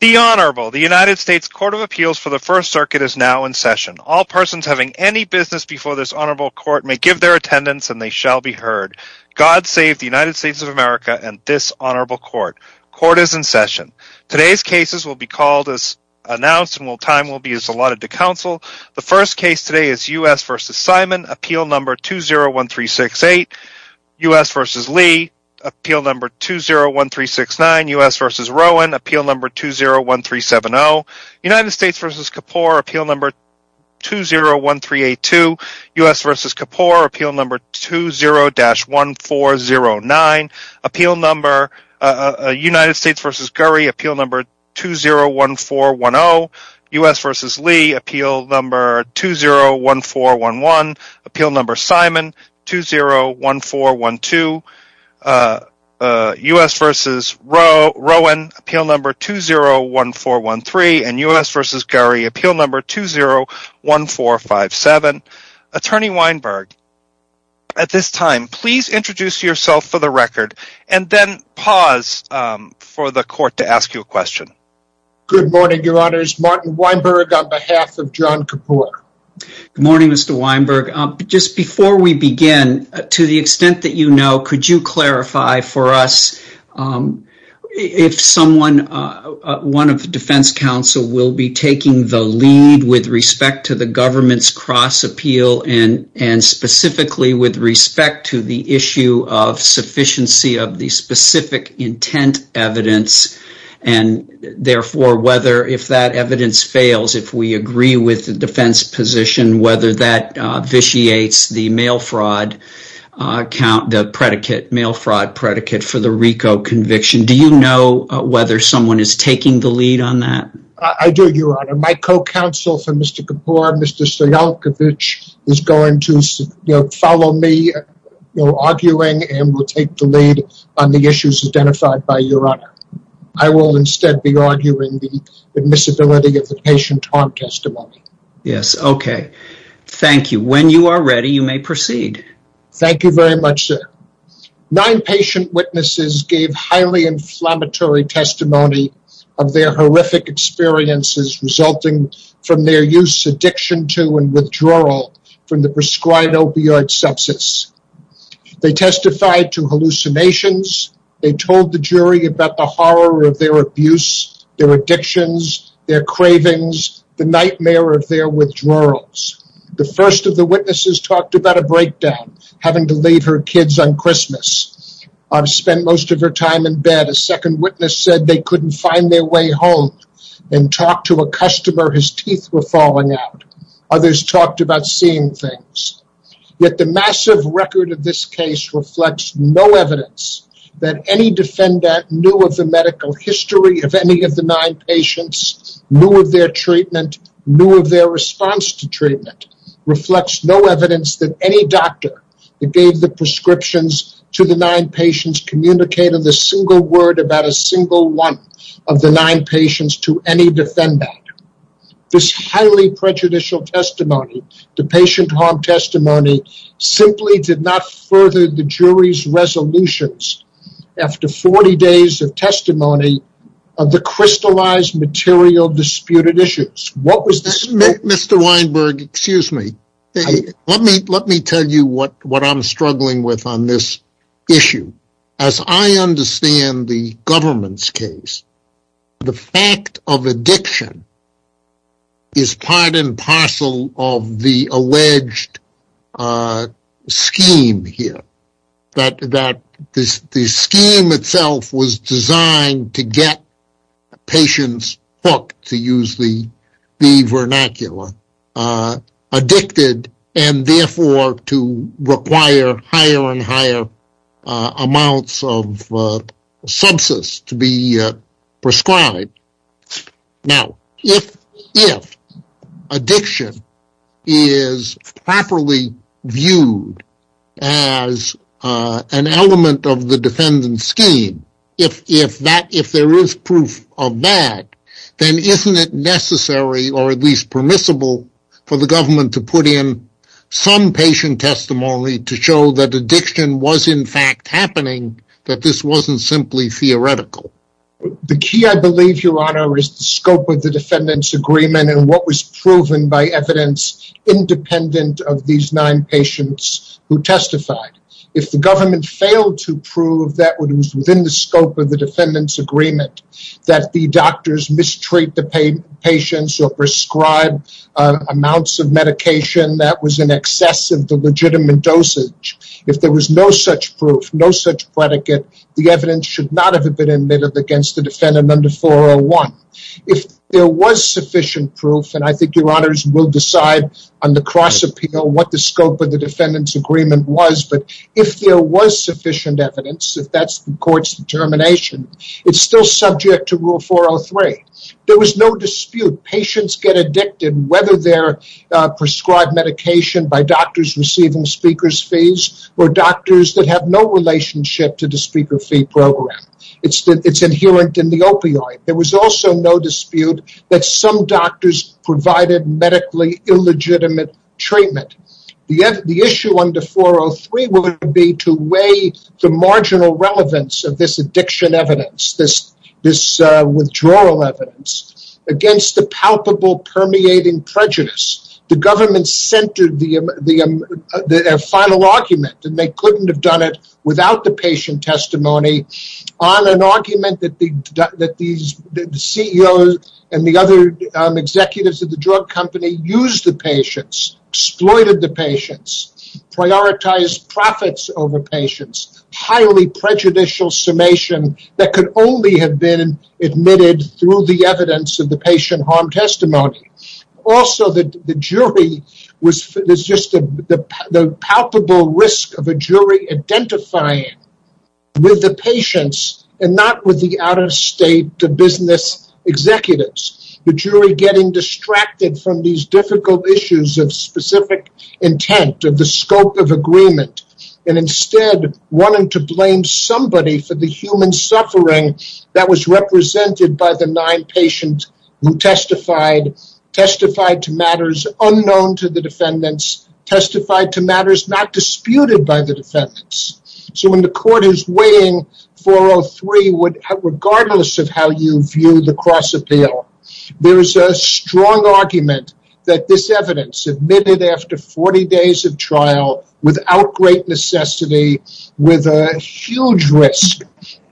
The United States Court of Appeals for the First Circuit is now in session. All persons having any business before this honorable court may give their attendance and they shall be heard. God save the United States of America and this honorable court. Court is in session. Today's cases will be called as announced and time will be allotted to counsel. The first case today is U.S. v. Simon, appeal number 201368. U.S. v. Lee, appeal number 201369. U.S. v. Rowan, appeal number 201370. United States v. Kapoor, appeal number 201382. U.S. v. Kapoor, appeal number 20-1409. United States v. Gurry, appeal number 201410. U.S. v. Lee, appeal number 201411. Appeal number Simon, 201412. U.S. v. Rowan, appeal number 201413. And U.S. v. Gurry, appeal number 201457. Attorney Weinberg, at this time, please introduce yourself for the record. And then pause for the court to ask you a question. Good morning, your honors. Martin Weinberg on behalf of John Kapoor. Good morning, Mr. Weinberg. Just before we begin, to the extent that you know, could you clarify for us if someone, one of the defense counsel will be taking the lead with respect to the government's cross appeal and specifically with respect to the issue of sufficiency of the specific intent evidence and therefore whether if that evidence fails, if we agree with the defense position, whether that vitiates the mail fraud predicate for the RICO conviction. Do you know whether someone is taking the lead on that? I do, your honor. My co-counsel for Mr. Kapoor, Mr. Sayalkovich, is going to follow me arguing and will take the lead on the issues identified by your honor. I will instead be arguing the admissibility of the patient harm testimony. Yes, okay. Thank you. When you are ready, you may proceed. Thank you very much, sir. Nine patient witnesses gave highly inflammatory testimony of their horrific experiences resulting from their use, addiction to, and withdrawal from the prescribed opioid substance. They testified to hallucinations. They told the jury about the horror of their abuse, their addictions, their cravings, the nightmare of their withdrawals. The first of the witnesses talked about a breakdown, having to leave her kids on Christmas. I've spent most of her time in bed. A second witness said they couldn't find their way home and talked to a customer. His teeth were falling out. Others talked about seeing things. Yet the massive record of this case reflects no evidence that any defendant knew of the medical history of any of the nine patients, knew of their treatment, knew of their response to treatment, reflects no evidence that any doctor that gave the prescriptions to the nine patients communicated a single word about a single one of the nine patients to any defendant. This highly prejudicial testimony, the patient harm testimony, simply did not further the jury's resolutions. After 40 days of testimony of the crystallized material disputed issues. What was this? Mr. Weinberg, excuse me. Let me tell you what I'm struggling with on this issue. As I understand the government's case, the fact of addiction is part and parcel of the alleged scheme here. That the scheme itself was designed to get patients hooked, to use the vernacular, addicted and therefore to require higher and higher amounts of sepsis to be prescribed. Now, if addiction is properly viewed as an element of the defendant's scheme, if there is proof of that, then isn't it necessary or at least permissible for the government to put in some patient testimony to show that addiction was in fact happening, that this wasn't simply theoretical? The key, I believe, Your Honor, is the scope of the defendant's agreement and what was proven by evidence independent of these nine patients who testified. If the government failed to prove that it was within the scope of the defendant's agreement that the doctors mistreat the patients or prescribe amounts of medication that was in excess of the legitimate dosage. If there was no such proof, no such predicate, the evidence should not have been admitted against the defendant under 401. If there was sufficient proof, and I think Your Honor will decide on the cross-appeal what the scope of the defendant's agreement was, but if there was sufficient evidence, if that's the court's determination, it's still subject to Rule 403. There was no dispute. Patients get addicted whether they're prescribed medication by doctors receiving speaker's fees or doctors that have no relationship to the speaker fee program. It's inherent in the opioid. There was also no dispute that some doctors provided medically illegitimate treatment. The issue under 403 would be to weigh the marginal relevance of this addiction evidence, this withdrawal evidence, against the palpable permeating prejudice. The government centered the final argument, and they couldn't have done it without the patient testimony, on an argument that the CEO and the other executives of the drug company used the patients, exploited the patients, prioritized profits over patients, highly prejudicial summation that could only have been admitted through the evidence of the patient harm testimony. Also, the jury was just the palpable risk of a jury identifying with the patients and not with the out-of-state business executives. The jury getting distracted from these difficult issues of specific intent and the scope of agreement, and instead wanting to blame somebody for the human suffering that was represented by the nine patients who testified, testified to matters unknown to the defendants, testified to matters not disputed by the defendants. So when the court is weighing 403, regardless of how you view the cross-appeal, there's a strong argument that this evidence, admitted after 40 days of trial, without great necessity, with a huge risk,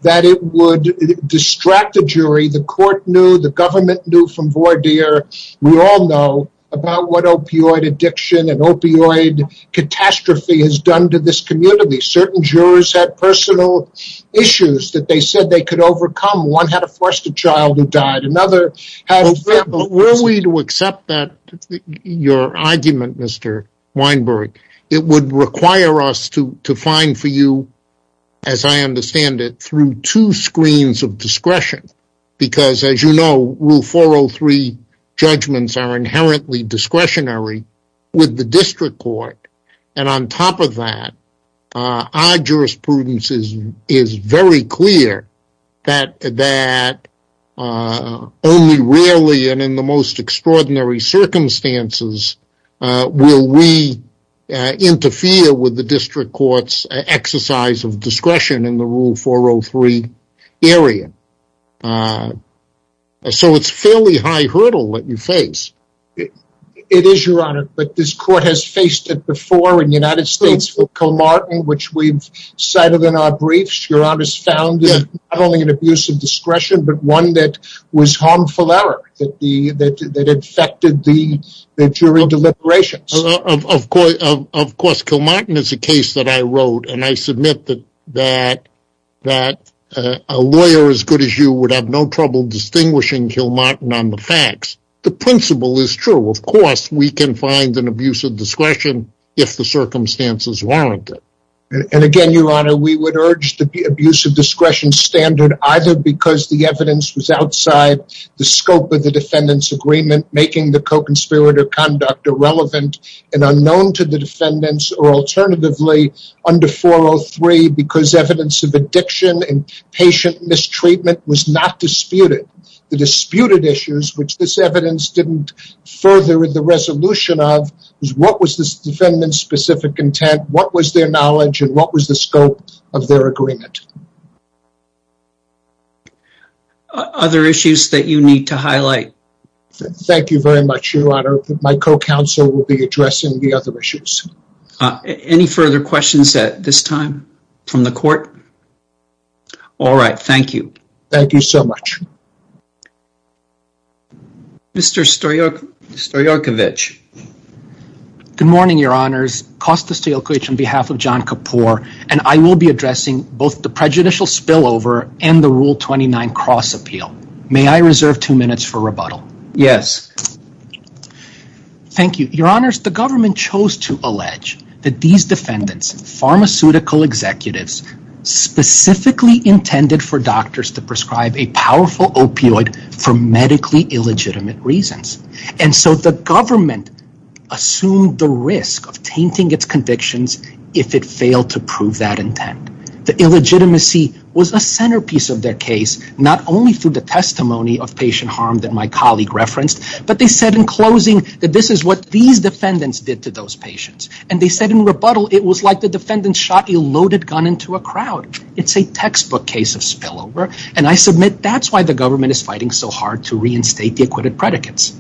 that it would distract the jury. The court knew, the government knew from Bourdier, we all know about what opioid addiction and opioid catastrophe has done to this community. Certain jurors had personal issues that they said they could overcome. One had a foster child who died. Were we to accept that, your argument, Mr. Weinberg, it would require us to find for you, as I understand it, through two screens of discretion. Because, as you know, Rule 403 judgments are inherently discretionary with the district court. And on top of that, our jurisprudence is very clear that only rarely and in the most extraordinary circumstances will we interfere with the district court's exercise of discretion in the Rule 403 area. So it's a fairly high hurdle that you face. It is, Your Honor, but this court has faced it before in the United States with Kilmartin, which we've cited in our briefs. Your Honor's found not only an abuse of discretion, but one that was harmful error, that affected the jury deliberations. Of course, Kilmartin is a case that I wrote, and I submit that a lawyer as good as you would have no trouble distinguishing Kilmartin on the facts. The principle is true. Of course, we can find an abuse of discretion if the circumstances warrant it. And again, Your Honor, we would urge the abuse of discretion standard either because the evidence was outside the scope of the defendant's agreement, making the co-conspirator conduct irrelevant and unknown to the defendants, or alternatively, under 403, because evidence of addiction and patient mistreatment was not disputed. The disputed issues, which this evidence didn't further the resolution of, is what was this defendant's specific intent, what was their knowledge, and what was the scope of their agreement. Other issues that you need to highlight? Thank you very much, Your Honor. My co-counsel will be addressing the other issues. Any further questions at this time from the court? All right, thank you. Thank you so much. Mr. Stoyorkovich. Good morning, Your Honors. Kostas Stoyorkovich on behalf of John Kapor, and I will be addressing both the prejudicial spillover and the Rule 29 cross-appeal. May I reserve two minutes for rebuttal? Yes. Thank you. Your Honors, the government chose to allege that these defendants, pharmaceutical executives, specifically intended for doctors to prescribe a powerful opioid for medically illegitimate reasons. And so the government assumed the risk of tainting its convictions if it failed to prove that intent. The illegitimacy was a centerpiece of that case, not only through the testimony of patient harm that my colleague referenced, but they said in closing that this is what these defendants did to those patients. And they said in rebuttal it was like the defendants shot a loaded gun into a crowd. It's a textbook case of spillover, and I submit that's why the government is fighting so hard to reinstate the acquitted predicates.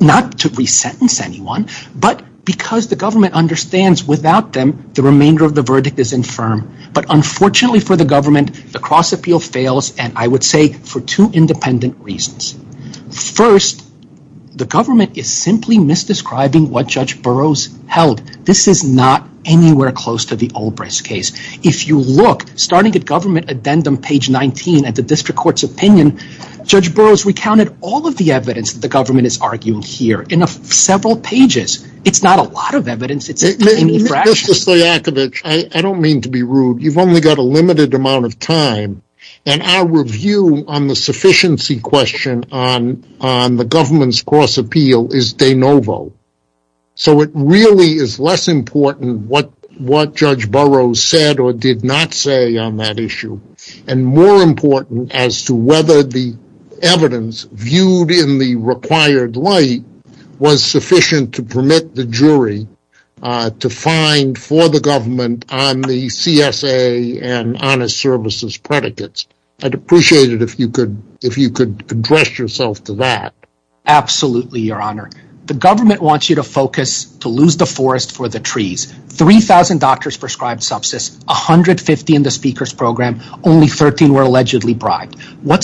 Not to resentence anyone, but because the government understands without them, the remainder of the verdict is infirm. But unfortunately for the government, the cross-appeal fails and I would say for two independent reasons. First, the government is simply misdescribing what Judge Burroughs held. This is not anywhere close to the Olbrich's case. If you look, starting at government addendum page 19 at the district court's opinion, Judge Burroughs recounted all of the evidence that the government has argued here in several pages. It's not a lot of evidence. I don't mean to be rude. You've only got a limited amount of time, and our review on the sufficiency question on the government's cross-appeal is de novo. So it really is less important what Judge Burroughs said or did not say on that issue and more important as to whether the evidence viewed in the required light was sufficient to permit the jury to find for the government on the CSA and honest services predicates. I'd appreciate it if you could address yourself to that. Absolutely, Your Honor. The government wants you to focus to lose the forest for the trees. 3,000 doctors prescribed sepsis, 150 in the speaker's program, What's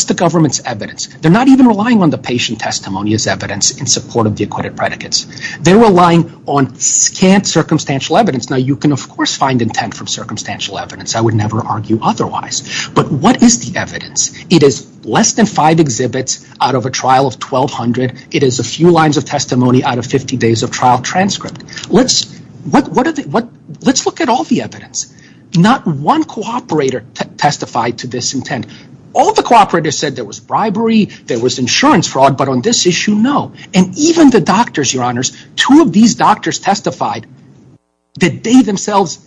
the government's evidence? They're not even relying on the patient testimony as evidence in support of the acquitted predicates. They're relying on scant circumstantial evidence. Now, you can, of course, find intent from circumstantial evidence. I would never argue otherwise. But what is the evidence? It is less than five exhibits out of a trial of 1,200. It is a few lines of testimony out of 50 days of trial transcript. Let's look at all the evidence. Not one cooperator testified to this intent. All the cooperators said there was bribery, there was insurance fraud, but on this issue, no. And even the doctors, Your Honors, two of these doctors testified that they themselves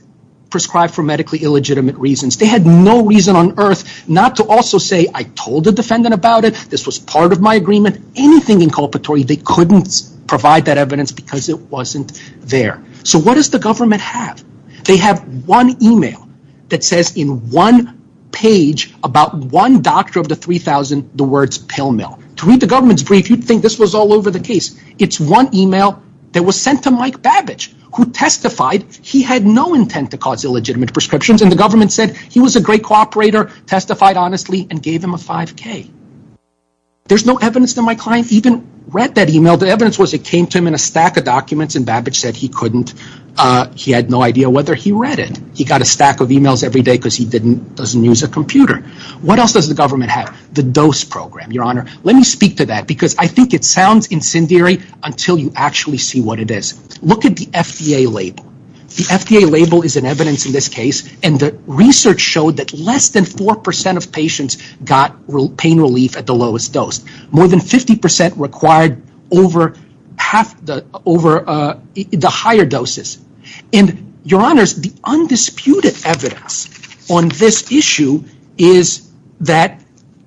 prescribed for medically illegitimate reasons. They had no reason on earth not to also say, I told the defendant about it, this was part of my agreement. Anything inculpatory, they couldn't provide that evidence because it wasn't there. So what does the government have? They have one email that says in one page about one doctor of the 3,000, the words pill mill. To me, the government's brief, you'd think this was all over the case. It's one email that was sent to Mike Babbage, who testified he had no intent to cause illegitimate prescriptions, and the government said he was a great cooperator, testified honestly, and gave him a 5K. There's no evidence that my client even read that email. The evidence was it came to him in a stack of documents, and Babbage said he couldn't. He had no idea whether he read it. He got a stack of emails every day because he doesn't use a computer. What else does the government have? The dose program, Your Honor. Let me speak to that because I think it sounds incendiary until you actually see what it is. Look at the FDA label. The FDA label is an evidence in this case, and the research showed that less than 4% of patients got pain relief at the lowest dose. More than 50% required over the higher doses. Your Honor, the undisputed evidence on this issue is that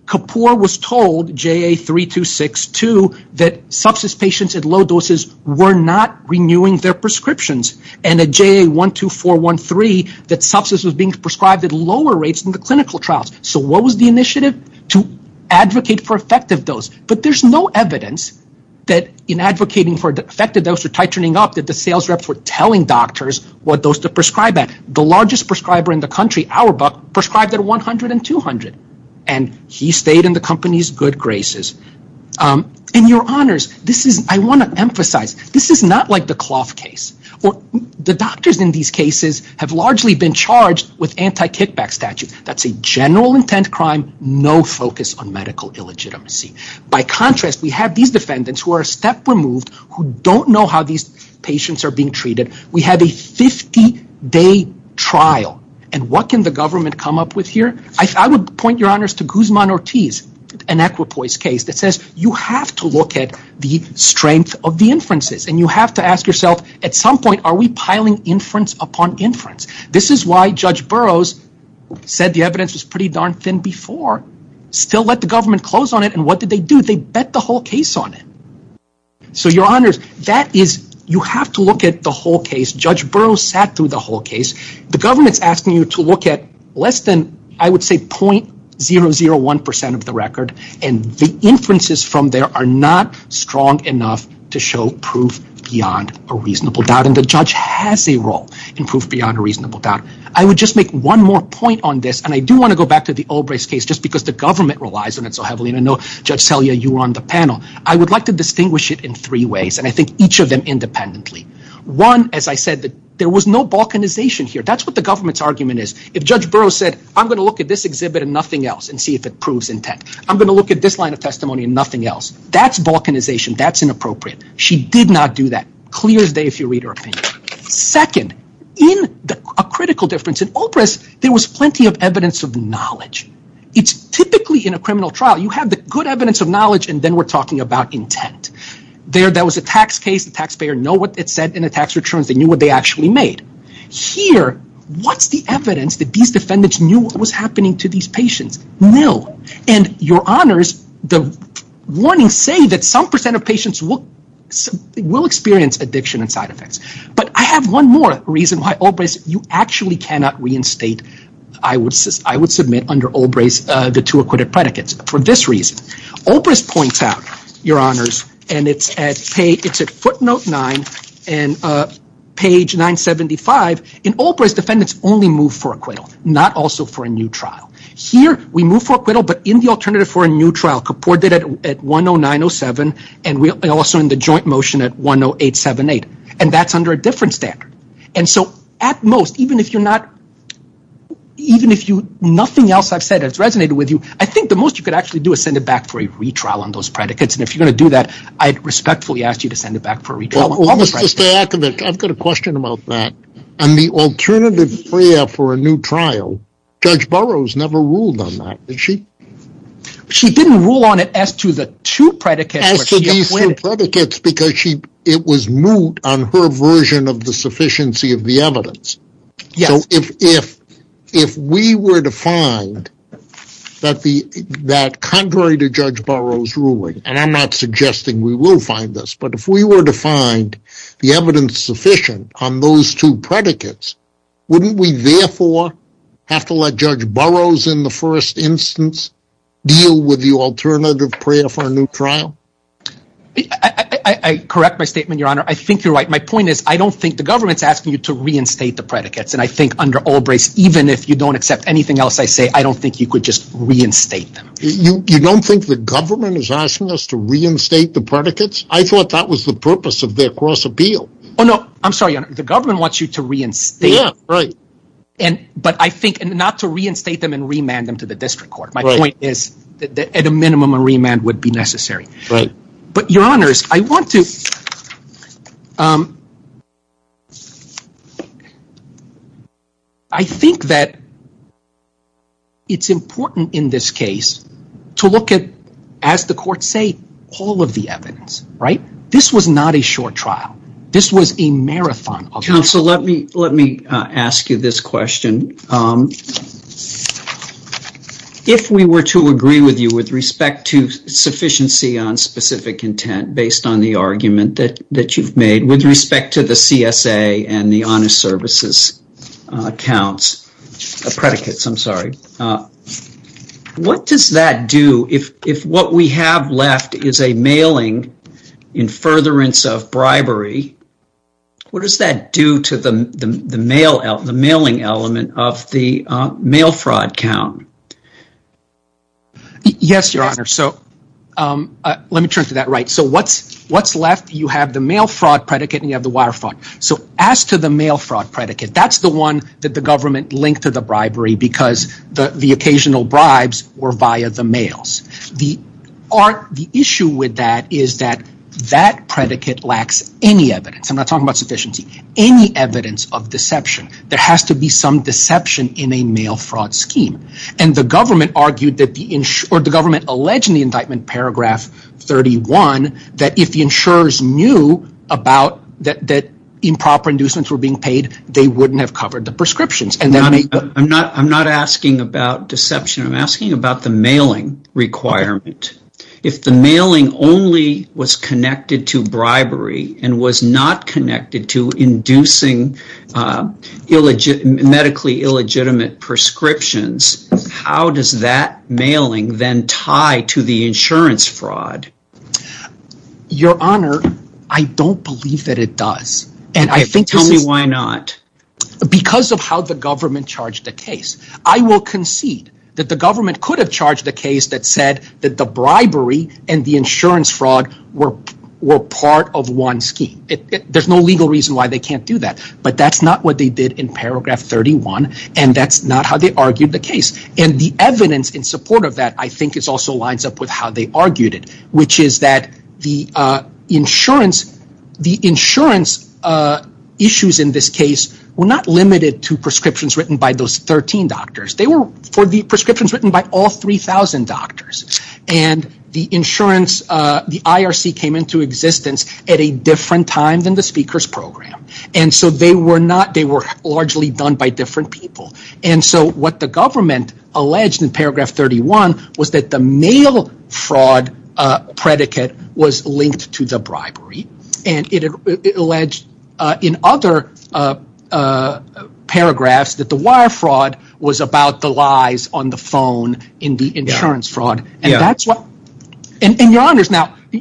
Kapoor was told, JA3262, that sepsis patients at low doses were not renewing their prescriptions, and at JA12413 that sepsis was being prescribed at lower rates than the clinical trials. What was the initiative? To advocate for effective dose, but there's no evidence that in advocating for effective dose or tightening up that the sales reps were telling doctors what dose to prescribe at. The largest prescriber in the country, Auerbach, prescribed at 100 and 200, and he stayed in the company's good graces. Your Honors, I want to emphasize this is not like the cloth case. The doctors in these cases have largely been charged with anti-kickback statutes. That's a general intent crime, no focus on medical illegitimacy. By contrast, we have these defendants who are step removed, who don't know how these patients are being treated. We have a 50-day trial, and what can the government come up with here? I would point Your Honors to Guzman-Ortiz, an equipoise case, that says you have to look at the strength of the inferences, and you have to ask yourself, at some point, are we piling inference upon inference? This is why Judge Burroughs said the evidence is pretty darn thin before. Still let the government close on it, and what did they do? They bet the whole case on it. So Your Honors, you have to look at the whole case. Judge Burroughs sat through the whole case. The government's asking you to look at less than, I would say, .001% of the record, and the inferences from there are not strong enough to show proof beyond a reasonable doubt. And the judge has a role in proof beyond a reasonable doubt. I would just make one more point on this, and I do want to go back to the Obrey's case, just because the government relies on it so heavily, and I know Judge Telia, you were on the panel. I would like to distinguish it in three ways, and I think each of them independently. One, as I said, there was no balkanization here. That's what the government's argument is. If Judge Burroughs said, I'm going to look at this exhibit and nothing else and see if it proves intent, I'm going to look at this line of testimony and nothing else, that's balkanization, that's inappropriate. She did not do that. Clear as day, if you read her opinion. Second, in a critical difference, in Obrey's, there was plenty of evidence of knowledge. It's typically in a criminal trial, you have the good evidence of knowledge and then we're talking about intent. There was a tax case, the taxpayer knew what it said in the tax returns, they knew what they actually made. Here, what's the evidence that these defendants knew what was happening to these patients? And your honors, the warning saying that some percent of patients will experience addiction and side effects. But I have one more reason why Obrey's, you actually cannot reinstate, I would submit under Obrey's, the two acquitted predicates for this reason. Obrey's points out, your honors, and it's at footnote nine, page 975, in Obrey's, defendants only move for acquittal, not also for a new trial. Here, we move for acquittal, but in the alternative for a new trial, Kapoor did it at 10907 and also in the joint motion at 10878, and that's under a different standard. And so at most, even if you're not, even if nothing else I've said has resonated with you, I think the most you could actually do is send it back for a retrial on those predicates, and if you're going to do that, I respectfully ask you to send it back for a retrial. Mr. Akovic, I've got a question about that. On the alternative prayer for a new trial, Judge Burroughs never ruled on that, did she? She didn't rule on it as to the two predicates. As to the two predicates because it was moot on her version of the sufficiency of the evidence. So if we were to find that contrary to Judge Burroughs' ruling, and I'm not suggesting we will find this, but if we were to find the evidence sufficient on those two predicates, wouldn't we therefore have to let Judge Burroughs in the first instance deal with the alternative prayer for a new trial? I correct my statement, Your Honor. I think you're right. My point is I don't think the government's asking you to reinstate the predicates, and I think under Albright's, even if you don't accept anything else I say, I don't think you could just reinstate them. You don't think the government is asking us to reinstate the predicates? I thought that was the purpose of their cross-appeal. Oh, no. I'm sorry, Your Honor. The government wants you to reinstate them. Yeah, right. But I think not to reinstate them and remand them to the district court. My point is at a minimum a remand would be necessary. Right. But, Your Honors, I think that it's important in this case to look at, as the courts say, all of the evidence. Right? This was not a short trial. This was a marathon. Counsel, let me ask you this question. If we were to agree with you with respect to sufficiency on specific intent based on the argument that you've made with respect to the CSA and the honest services predicates, what does that do if what we have left is a mailing in furtherance of bribery, what does that do to the mailing element of the mail fraud count? Yes, Your Honor. So let me turn to that. Right. So what's left? You have the mail fraud predicate and you have the water fraud. So as to the mail fraud predicate, that's the one that the government linked to the bribery because the occasional bribes were via the mails. The issue with that is that that predicate lacks any evidence. I'm not talking about sufficiency. Any evidence of deception. There has to be some deception in a mail fraud scheme. And the government argued that the insurance or the government alleged in the indictment paragraph 31 that if the insurers knew that improper inducements were being paid, they wouldn't have covered the prescriptions. I'm not asking about deception. I'm asking about the mailing requirement. If the mailing only was connected to bribery and was not connected to inducing medically illegitimate prescriptions, how does that mailing then tie to the insurance fraud? Your Honor, I don't believe that it does. Tell me why not. Because of how the government charged the case. I will concede that the government could have charged the case that said that the bribery and the insurance fraud were part of one scheme. There's no legal reason why they can't do that. But that's not what they did in paragraph 31. And that's not how they argued the case. And the evidence in support of that, I think, also lines up with how they argued it, which is that the insurance issues in this case were not limited to prescriptions written by those 13 doctors. They were prescriptions written by all 3,000 doctors. And the IRC came into existence at a different time than the Speaker's Program. And so they were largely done by different people. And so what the government alleged in paragraph 31 was that the mail fraud predicate was linked to the bribery. And it alleged in other paragraphs that the wire fraud was about the lies on the phone in the insurance fraud. And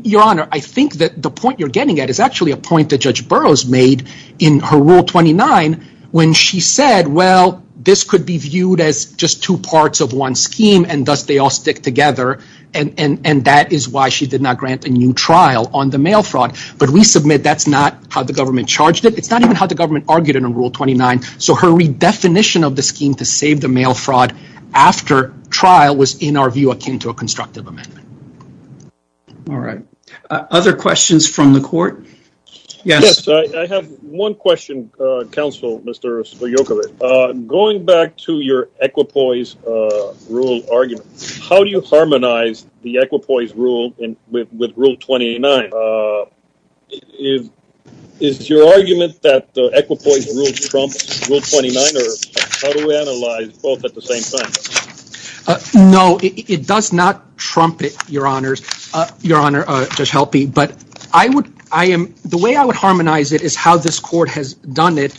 Your Honor, I think that the point you're getting at is actually a point that Judge Burroughs made in her Rule 29 when she said, well, this could be viewed as just two parts of one scheme and thus they all stick together. And that is why she did not grant a new trial on the mail fraud. But we submit that's not how the government charged it. It's not even how the government argued it in Rule 29. So her redefinition of the scheme to save the mail fraud after trial was, in our view, akin to a constructive amendment. All right. Other questions from the Court? Yes. Yes, I have one question, Counsel, Mr. Sciocco. Going back to your equipoise rule argument, how do you harmonize the equipoise rule with Rule 29? Is your argument that the equipoise rule trumps Rule 29, or how do we analyze both at the same time? No, it does not trump it, Your Honor, Judge Helpe. But the way I would harmonize it is how this Court has done it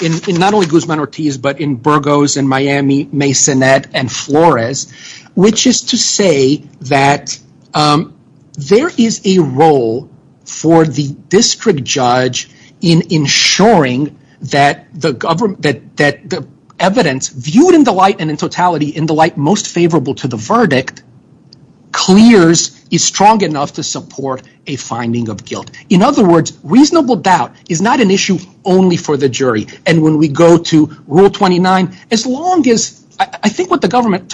in not only Guzman-Ortiz, but in Burgos, in Miami, Masonette, and Flores, which is to say that there is a role for the district judge in ensuring that the evidence viewed in the light and in totality in the light most favorable to the verdict clears, is strong enough to support a finding of guilt. In other words, reasonable doubt is not an issue only for the jury. And when we go to Rule 29, I think what the government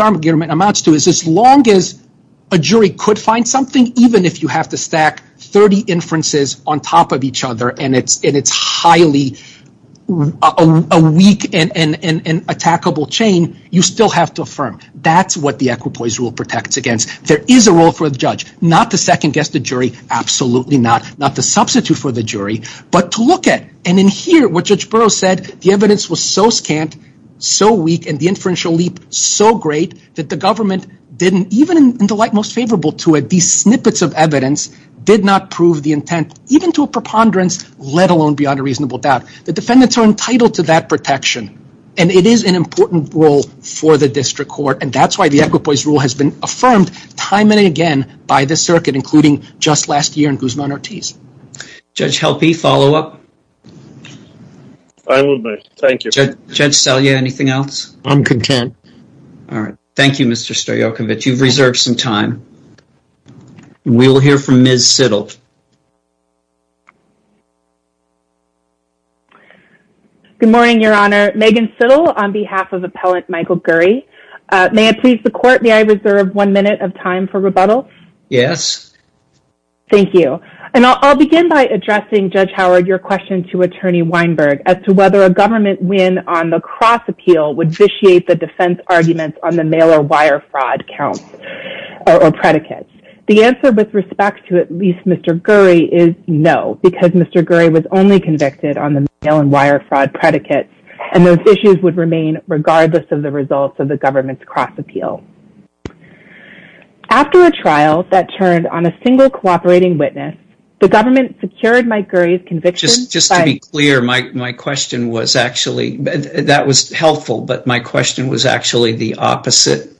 amounts to is as long as a jury could find something, even if you have to stack 30 inferences on top of each other and it's highly weak and an attackable chain, you still have to affirm. That's what the equipoise rule protects against. There is a role for the judge, not to second-guess the jury, absolutely not, not to substitute for the jury, but to look at. And in here, what Judge Burroughs said, the evidence was so scant, so weak, and the inferential leap so great that the government didn't even in the light most favorable to it, these snippets of evidence did not prove the intent, even to a preponderance, let alone beyond a reasonable doubt. The defendants are entitled to that protection, and it is an important role for the district court, and that's why the equipoise rule has been affirmed time and again by the circuit, including just last year in Guzman-Ortiz. Judge Helpe, follow-up? I will move, thank you. Judge Salia, anything else? I'm content. All right. Thank you, Mr. Stoyokovich. You've reserved some time. We will hear from Ms. Siddall. Good morning, Your Honor. Megan Siddall on behalf of Appellant Michael Gurry. May I please the court, may I reserve one minute of time for rebuttal? Yes. Thank you. And I'll begin by addressing, Judge Howard, your question to Attorney Weinberg as to whether a government win on the cross-appeal would vitiate the defense arguments on the mail-and-wire fraud counts or predicates. The answer with respect to at least Mr. Gurry is no, because Mr. Gurry was only convicted on the mail-and-wire fraud predicates, and those issues would remain regardless of the results of the government's cross-appeal. After a trial that turned on a single cooperating witness, the government secured Mike Gurry's conviction. Just to be clear, my question was actually, that was helpful, but my question was actually the opposite,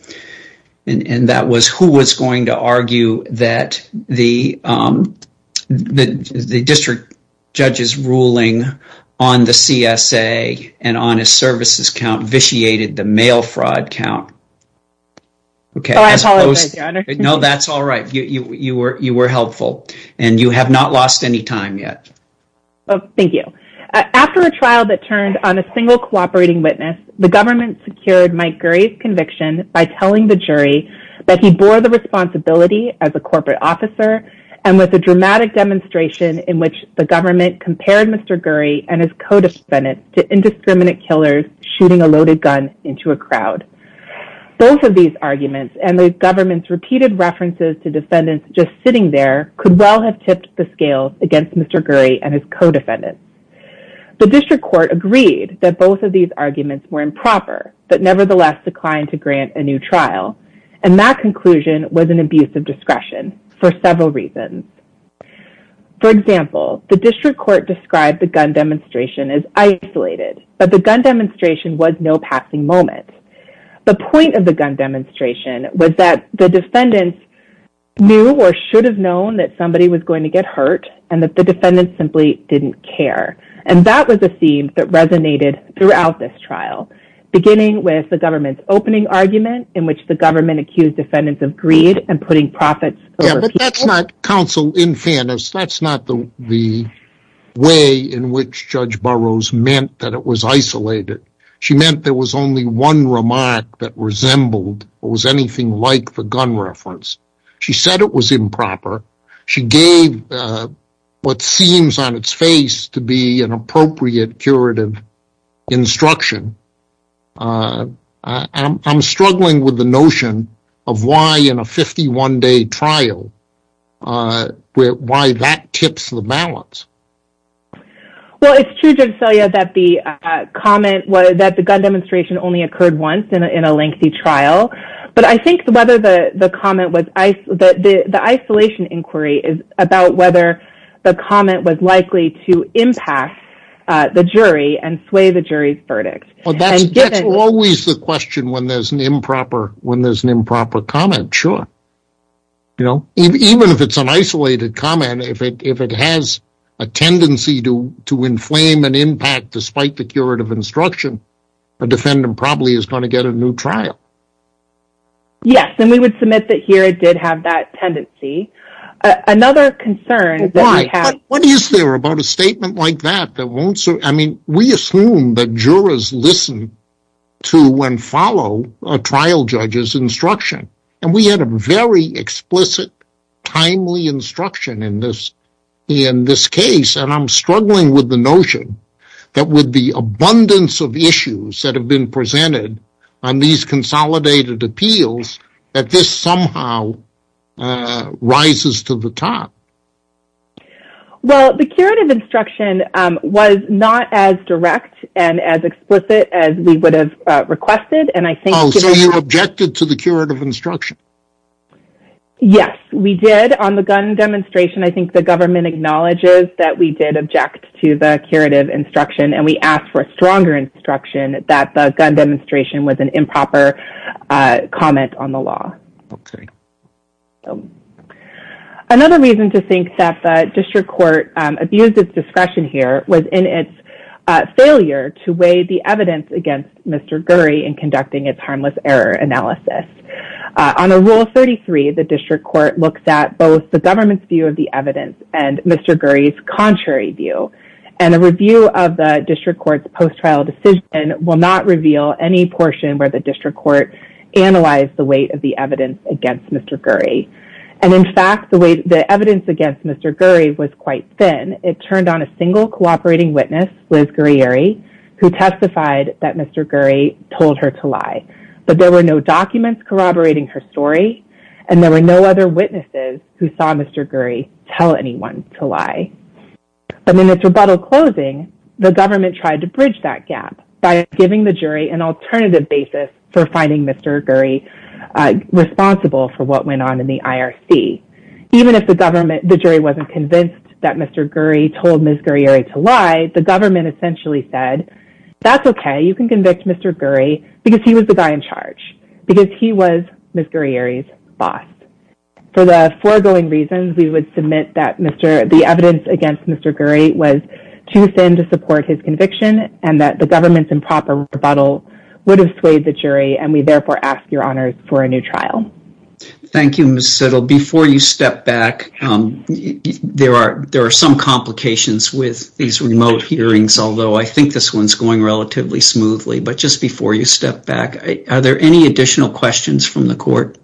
and that was who was going to argue that the district judge's ruling on the CSA and on a services count vitiated the mail fraud count? Oh, I apologize, Your Honor. No, that's all right. You were helpful, and you have not lost any time yet. Thank you. After a trial that turned on a single cooperating witness, the government secured Mike Gurry's conviction by telling the jury that he bore the responsibility as a corporate officer and with a dramatic demonstration in which the government compared Mr. Gurry and his co-defendants to indiscriminate killers shooting a loaded gun into a crowd. Both of these arguments and the government's repeated references to defendants just sitting there could well have tipped the scale against Mr. Gurry and his co-defendants. The district court agreed that both of these arguments were improper, but nevertheless declined to grant a new trial, and that conclusion was an abuse of discretion for several reasons. For example, the district court described the gun demonstration as isolated, but the gun demonstration was no passing moment. The point of the gun demonstration was that the defendants knew or should have known that somebody was going to get hurt and that the defendants simply didn't care, and that was a theme that resonated throughout this trial, beginning with the government's opening argument in which the government accused defendants of greed and putting profits over people. But that's not counsel in fairness. That's not the way in which Judge Burroughs meant that it was isolated. She meant there was only one remark that resembled or was anything like the gun reference. She said it was improper. She gave what seems on its face to be an appropriate curative instruction. I'm struggling with the notion of why in a 51-day trial, why that tips the balance. Well, it's true, Judge Selya, that the comment that the gun demonstration only occurred once in a lengthy trial, but I think the isolation inquiry is about whether the comment was likely to impact the jury and sway the jury's verdict. That's always the question when there's an improper comment, sure. Even if it's an isolated comment, if it has a tendency to inflame an impact despite the curative instruction, a defendant probably is going to get a new trial. Yes, and we would submit that here it did have that tendency. Why? What is there about a statement like that? We assume that jurors listen to and follow a trial judge's instruction, and we had a very explicit, timely instruction in this case, and I'm struggling with the notion that with the abundance of issues that have been presented on these consolidated appeals, that this somehow rises to the top. Well, the curative instruction was not as direct and as explicit as we would have requested. Oh, so you objected to the curative instruction? Yes, we did on the gun demonstration. I think the government acknowledges that we did object to the curative instruction, and we asked for stronger instruction that the gun demonstration was an improper comment on the law. Okay. Another reason to think that the district court abused its discretion here was in its failure to weigh the evidence against Mr. Gurry in conducting its harmless error analysis. On Rule 33, the district court looks at both the government's view of the evidence and Mr. Gurry's contrary view, and a review of the district court's post-trial decision will not reveal any portion where the district court analyzed the weight of the evidence against Mr. Gurry, and, in fact, the evidence against Mr. Gurry was quite thin. It turned on a single cooperating witness, Liz Gurrieri, who testified that Mr. Gurry told her to lie, but there were no documents corroborating her story, and there were no other witnesses who saw Mr. Gurry tell anyone to lie. But in its rebuttal closing, the government tried to bridge that gap by giving the jury an alternative basis for finding Mr. Gurry responsible for what went on in the IRC. Even if the jury wasn't convinced that Mr. Gurry told Ms. Gurrieri to lie, the government essentially said, that's okay, you can convince Mr. Gurry because he was the guy in charge, because he was Ms. Gurrieri's boss. For the foregoing reasons, we would submit that the evidence against Mr. Gurry was too thin to support his conviction, and that the government's improper rebuttal would have swayed the jury, and we therefore ask your honors for a new trial. Thank you, Ms. Sittle. Before you step back, there are some complications with these remote hearings, although I think this one's going relatively smoothly. But just before you step back, are there any additional questions from the court?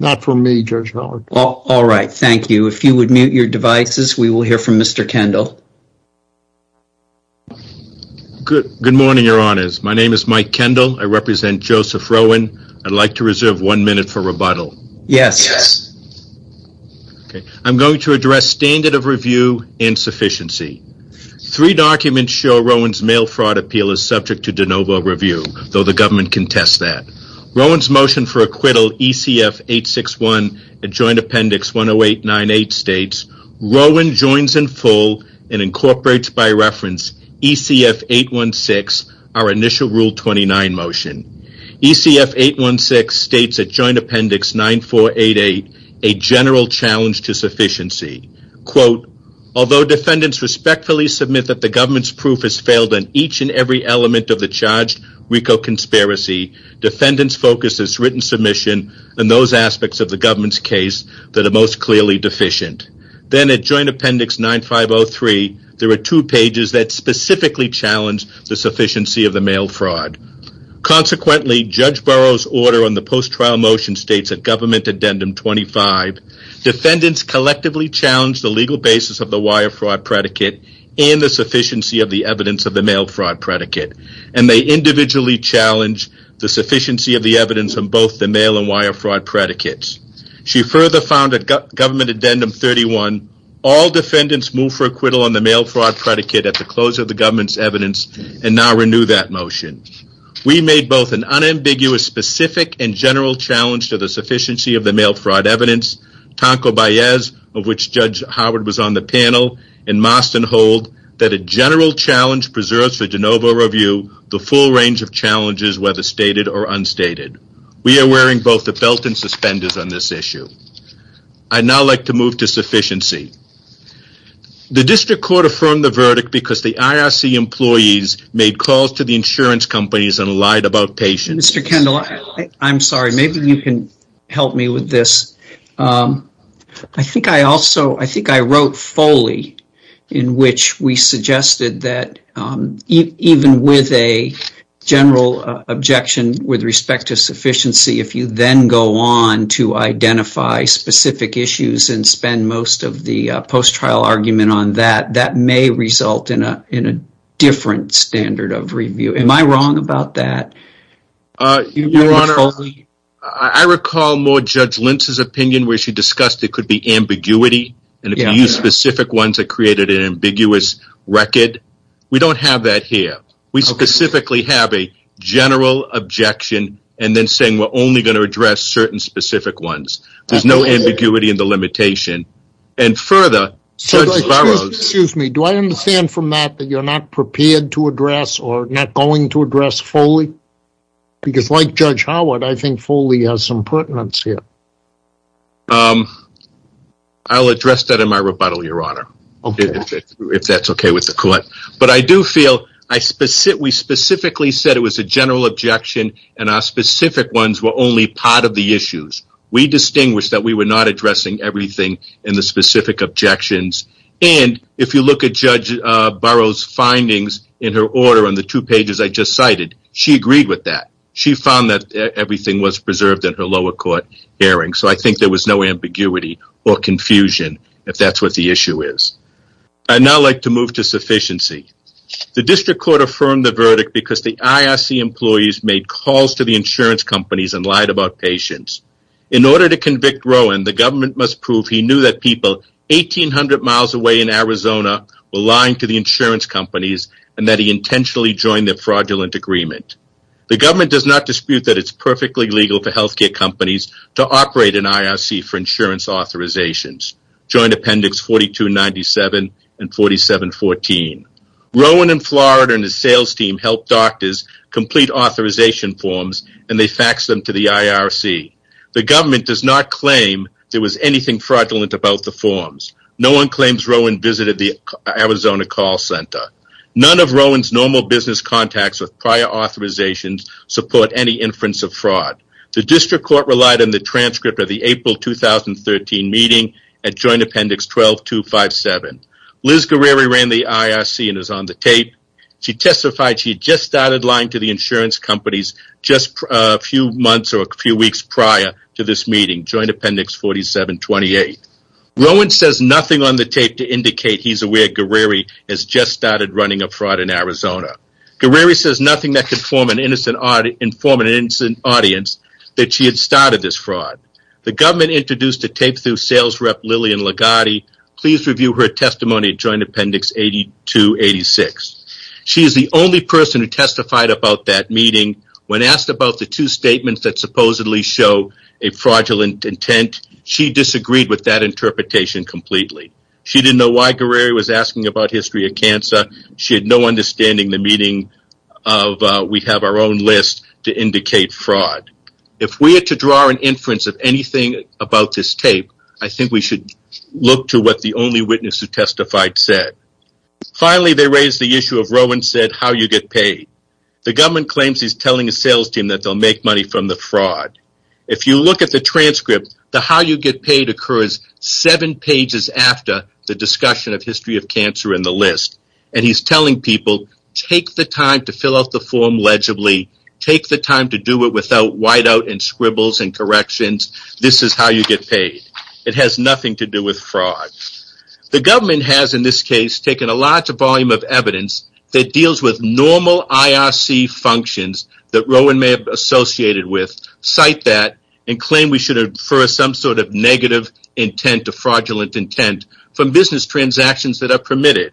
Not from me, Judge Howard. All right, thank you. If you would mute your devices, we will hear from Mr. Kendall. Good morning, your honors. My name is Mike Kendall. I represent Joseph Rowan. I'd like to reserve one minute for rebuttal. Yes. I'm going to address standard of review and sufficiency. Three documents show Rowan's mail fraud appeal is subject to de novo review, though the government can test that. Rowan's motion for acquittal, ECF 861, and joint appendix 10898 states, Rowan joins in full and incorporates by reference ECF 816, our initial Rule 29 motion. ECF 816 states at joint appendix 9488, a general challenge to sufficiency. Quote, although defendants respectfully submit that the government's proof has failed on each and every element of the charged RICO conspiracy, defendants focus its written submission on those aspects of the government's case that are most clearly deficient. Then at joint appendix 9503, there are two pages that specifically challenge the sufficiency of the mail fraud. Consequently, Judge Burrow's order on the post-trial motion states at government addendum 25, defendants collectively challenge the legal basis of the wire fraud predicate and the sufficiency of the evidence of the mail fraud predicate, and they individually challenge the sufficiency of the evidence on both the mail and wire fraud predicates. She further found at government addendum 31, all defendants move for acquittal on the mail fraud predicate at the close of the government's We made both an unambiguous, specific, and general challenge to the sufficiency of the mail fraud evidence. Tonko-Baez, of which Judge Howard was on the panel, and Marston hold that a general challenge preserves for de novo review the full range of challenges, whether stated or unstated. We are wearing both the felt and suspenders on this issue. I'd now like to move to sufficiency. The district court affirmed the verdict because the IRC employees made calls to the insurance companies and lied about patients. Mr. Kendall, I'm sorry. Maybe you can help me with this. I think I also, I think I wrote fully in which we suggested that even with a general objection with respect to sufficiency, if you then go on to identify specific issues and spend most of the post-trial argument on that, that may result in a different standard of review. Am I wrong about that? Your Honor, I recall more Judge Lentz's opinion where she discussed it could be ambiguity. And if you use specific ones, it created an ambiguous record. We don't have that here. We specifically have a general objection and then saying we're only going to address certain specific ones. There's no ambiguity in the limitation. And further, certain borrows. Excuse me. Do I understand from that that you're not prepared to address or not going to address Foley? Because like Judge Howard, I think Foley has some pertinence here. I'll address that in my rebuttal, Your Honor. Okay. If that's okay with the court. But I do feel we specifically said it was a general objection and our specific ones were only part of the issues. We distinguished that we were not addressing everything in the specific objections. And if you look at Judge Burrow's findings in her order on the two pages I just cited, she agreed with that. She found that everything was preserved in her lower court hearing. So I think there was no ambiguity or confusion if that's what the issue is. I'd now like to move to sufficiency. The district court affirmed the verdict because the IRC employees made calls to the insurance companies and lied about patients. In order to convict Rowan, the government must prove he knew that people 1,800 miles away in Arizona were lying to the insurance companies and that he intentionally joined the fraudulent agreement. The government does not dispute that it's perfectly legal for healthcare companies to operate an IRC for insurance authorizations. Join appendix 4297 and 4714. Rowan in Florida and his sales team helped doctors complete authorization forms and they faxed them to the IRC. The government does not claim there was anything fraudulent about the forms. No one claims Rowan visited the Arizona call center. None of Rowan's normal business contacts of prior authorizations support any inference of fraud. The district court relied on the transcript of the April 2013 meeting and joined appendix 12257. Liz Guerrero ran the IRC and is on the tape. She testified she had just started lying to the insurance companies just a few months or a few weeks prior to this meeting. Join appendix 4728. Rowan says nothing on the tape to indicate he's aware Guerrero has just started running a fraud in Arizona. Guerrero says nothing that could inform an innocent audience that she had started this fraud. The government introduced a tape through sales rep Lillian Ligotti. Please review her testimony joined appendix 8286. She is the only person who testified about that meeting. When asked about the two statements that supposedly show a fraudulent intent, she disagreed with that interpretation completely. She didn't know why Guerrero was asking about history of cancer. She had no understanding the meaning of we have our own list to indicate fraud. If we are to draw an inference of anything about this tape, I think we should look to what the only witness who testified said. Finally, they raised the issue of Rowan said how you get paid. The government claims he's telling a sales team that they'll make money from the fraud. If you look at the transcript, the how you get paid occurs seven pages after the discussion of history of cancer in the list. And he's telling people, take the time to fill out the form legibly. Take the time to do it without whiteout and scribbles and corrections. This is how you get paid. It has nothing to do with fraud. The government has in this case taken a large volume of evidence that deals with normal IRC functions that Rowan may have associated with, cite that, and claim we should infer some sort of negative intent or fraudulent intent from business transactions that are permitted.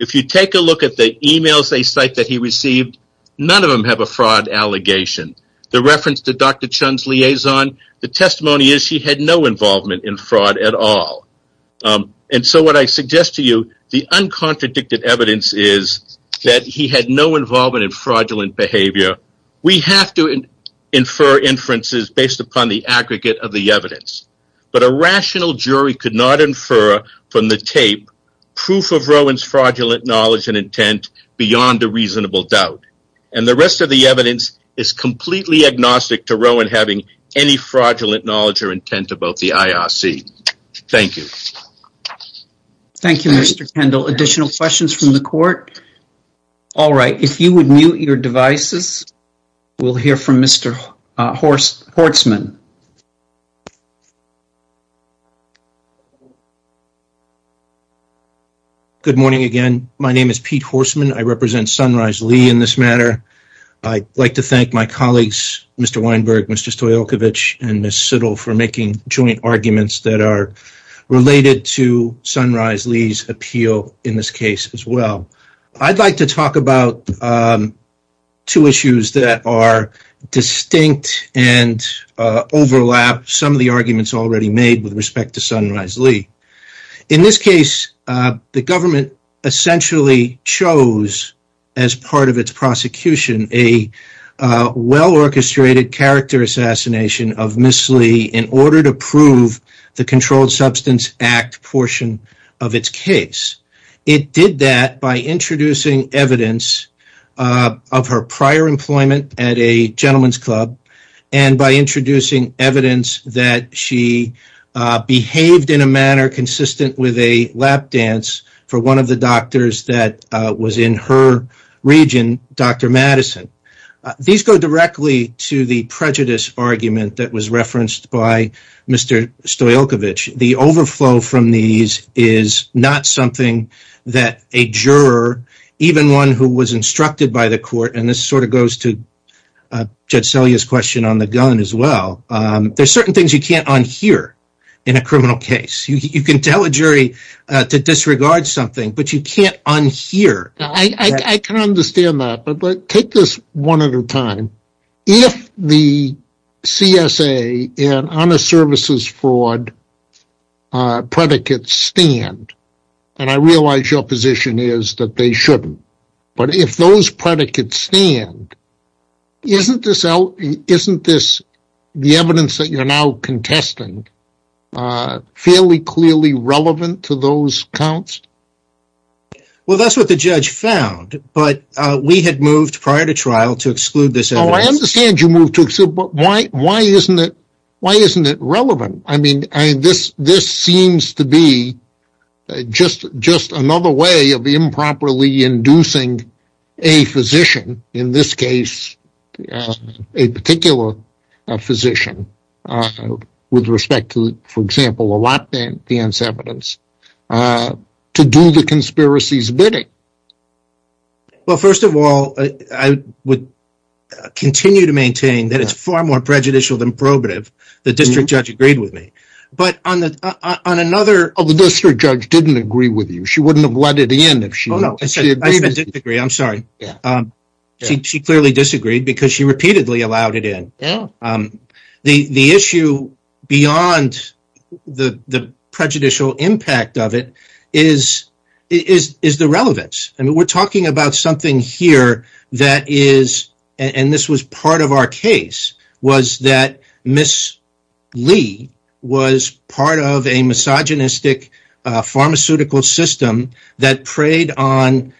If you take a look at the emails they cite that he received, none of them have a fraud allegation. The reference to Dr. Chun's liaison, the testimony is he had no involvement in fraud at all. And so what I suggest to you, the uncontradicted evidence is that he had no involvement in fraudulent behavior. We have to infer inferences based upon the aggregate of the evidence. But a rational jury could not infer from the tape proof of Rowan's fraudulent knowledge and intent beyond a reasonable doubt. And the rest of the evidence is completely agnostic to Rowan having any fraudulent knowledge or intent about the IRC. Thank you. Thank you, Mr. Kendall. Additional questions from the court? All right. If you would mute your devices, we'll hear from Mr. Horstman. Good morning, again. My name is Pete Horstman. I represent Sunrise Lee in this matter. I'd like to thank my colleagues, Mr. Weinberg, Mr. Stoyalkovich, and Ms. Sittle for making joint arguments that are related to Sunrise Lee's appeal in this case as well. I'd like to talk about two issues that are distinct and overlap some of the arguments already made with respect to Sunrise Lee. In this case, the government essentially chose as part of its prosecution a well-orchestrated character assassination of Ms. Lee in order to prove the Controlled Substance Act portion of its case. It did that by introducing evidence of her prior employment at a gentleman's club and by introducing evidence that she behaved in a manner consistent with a lap dance for one of the doctors that was in her region, Dr. Madison. These go directly to the prejudice argument that was referenced by Mr. Stoyalkovich. The overflow from these is not something that a juror, even one who was instructed by the court, and this sort of goes to Judge Selye's question on the gun as well, there's certain things you can't unhear in a criminal case. You can tell a jury to disregard something, but you can't unhear. I can understand that, but take this one at a time. If the CSA and honor services fraud predicates stand, and I realize your position is that they shouldn't, but if those predicates stand, isn't the evidence that you're now contesting fairly clearly relevant to those counts? That's what the judge found, but we had moved prior to trial to exclude this evidence. I understand you moved to exclude, but why isn't it relevant? This seems to be just another way of improperly inducing a physician, in this case a particular physician, with respect to, for example, a lot of the inseparables, to do the conspiracy's bidding. Well, first of all, I would continue to maintain that it's far more prejudicial than probative. The district judge agreed with me. But on another... The district judge didn't agree with you. She wouldn't have let it in if she had. I'm sorry. She clearly disagreed because she repeatedly allowed it in. The issue beyond the prejudicial impact of it is the relevance. And we're talking about something here that is, and this was part of our case, was that Miss Lee was part of a misogynistic pharmaceutical system that preyed on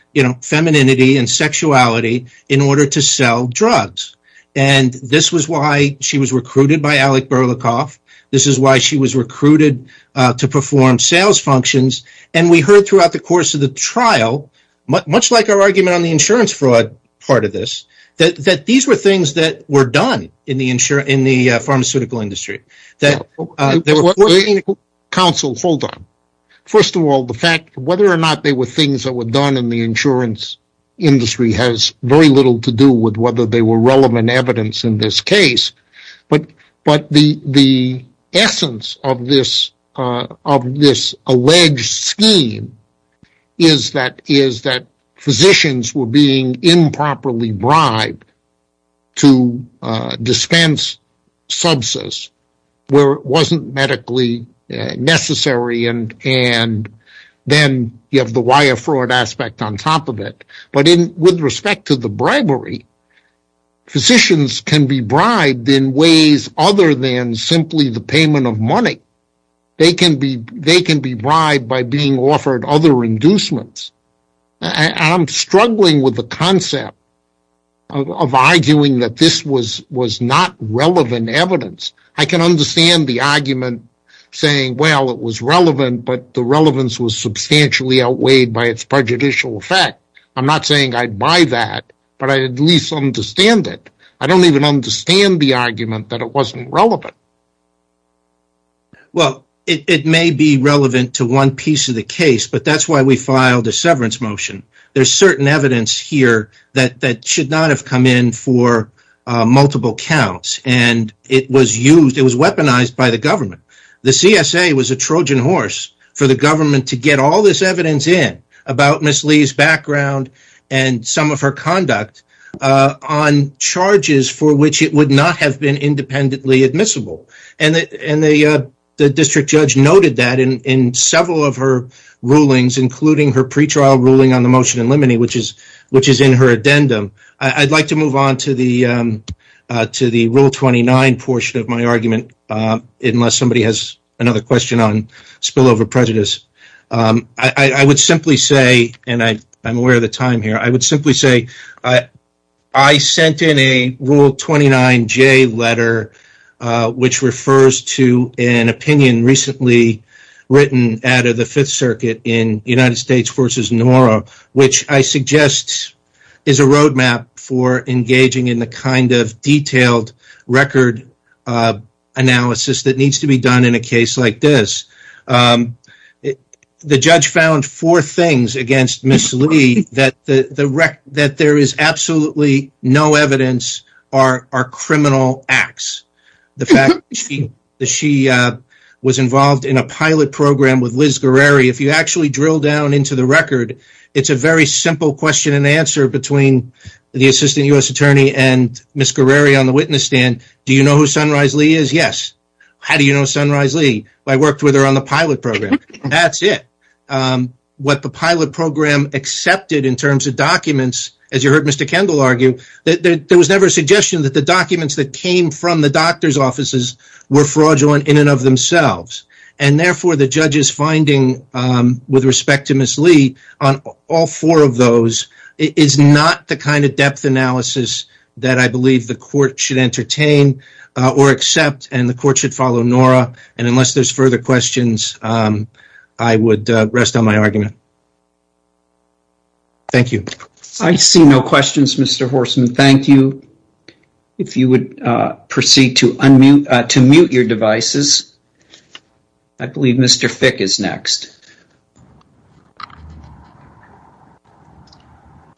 femininity and sexuality in order to sell drugs. And this was why she was recruited by Alec Berlikoff. This is why she was recruited to perform sales functions. And we heard throughout the course of the trial, much like our argument on the insurance fraud part of this, that these were things that were done in the pharmaceutical industry. Counsel, hold on. First of all, the fact, whether or not they were things that were done in the insurance industry has very little to do with whether they were relevant evidence in this case. But the essence of this alleged scheme is that physicians were being improperly bribed to dispense substance where it wasn't medically necessary, and then you have the wire fraud aspect on top of it. But with respect to the bribery, physicians can be bribed in ways other than simply the payment of money. They can be bribed by being offered other inducements. I'm struggling with the concept of arguing that this was not relevant evidence. I can understand the argument saying, well, it was relevant, but the relevance was substantially outweighed by its prejudicial effect. I'm not saying I buy that, but I at least understand it. I don't even understand the argument that it wasn't relevant. Well, it may be relevant to one piece of the case, but that's why we filed a severance motion. There's certain evidence here that should not have come in for multiple counts, and it was weaponized by the government. The CSA was a Trojan horse for the government to get all this evidence in about Ms. Lee's background and some of her conduct on charges for which it would not have been independently admissible. And the district judge noted that in several of her rulings, including her pretrial ruling on the motion in limine, which is in her addendum. I'd like to move on to the Rule 29 portion of my argument, unless somebody has another question on spillover prejudice. I would simply say, and I'm aware of the time here, I would simply say I sent in a Rule 29J letter, which refers to an opinion recently written out of the Fifth Circuit in United States v. Norah, which I suggest is a roadmap for engaging in the kind of detailed record analysis that needs to be done in a case like this. The judge found four things against Ms. Lee that there is absolutely no evidence are criminal acts. The fact that she was involved in a pilot program with Liz Guerrero. If you actually drill down into the record, it's a very simple question and answer between the Assistant U.S. Attorney and Ms. Guerrero on the witness stand. Do you know who Sunrise Lee is? Yes. How do you know Sunrise Lee? I worked with her on the pilot program. That's it. What the pilot program accepted in terms of documents, as you heard Mr. Kendall argue, there was never a suggestion that the documents that came from the doctor's offices were fraudulent in and of themselves. And therefore, the judge's finding with respect to Ms. Lee on all four of those is not the kind of depth analysis that I believe the court should entertain or accept, and the court should follow NORA. And unless there's further questions, I would rest on my argument. Thank you. I see no questions, Mr. Horsman. Thank you. If you would proceed to unmute your devices. I believe Mr. Fick is next.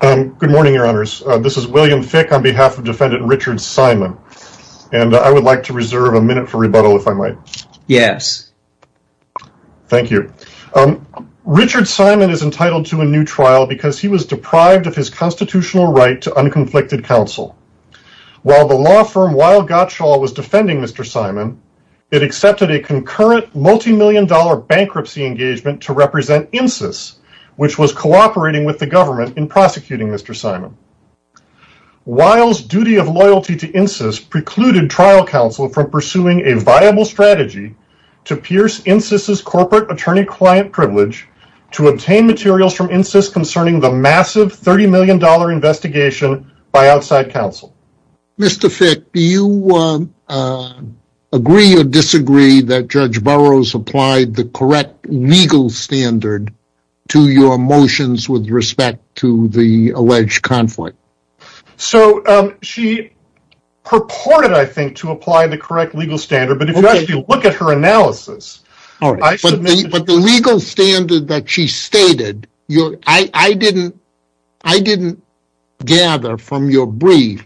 Good morning, Your Honors. This is William Fick on behalf of Defendant Richard Simon. And I would like to reserve a minute for rebuttal, if I might. Yes. Thank you. Richard Simon is entitled to a new trial because he was deprived of his constitutional right to unconflicted counsel. While the law firm Weill Gottschall was defending Mr. Simon, it accepted a concurrent multimillion-dollar bankruptcy engagement to represent INCIS, which was cooperating with the government in prosecuting Mr. Simon. Weill's duty of loyalty to INCIS precluded trial counsel from pursuing a viable strategy to pierce INCIS's corporate attorney-client privilege to obtain materials from INCIS concerning the massive $30 million investigation by outside counsel. Mr. Fick, do you agree or disagree that Judge Burroughs applied the correct legal standard to your motions with respect to the alleged conflict? So, she purported, I think, to apply the correct legal standard. But if you actually look at her analysis, I should make it clear. But the legal standard that she stated, I didn't gather from your brief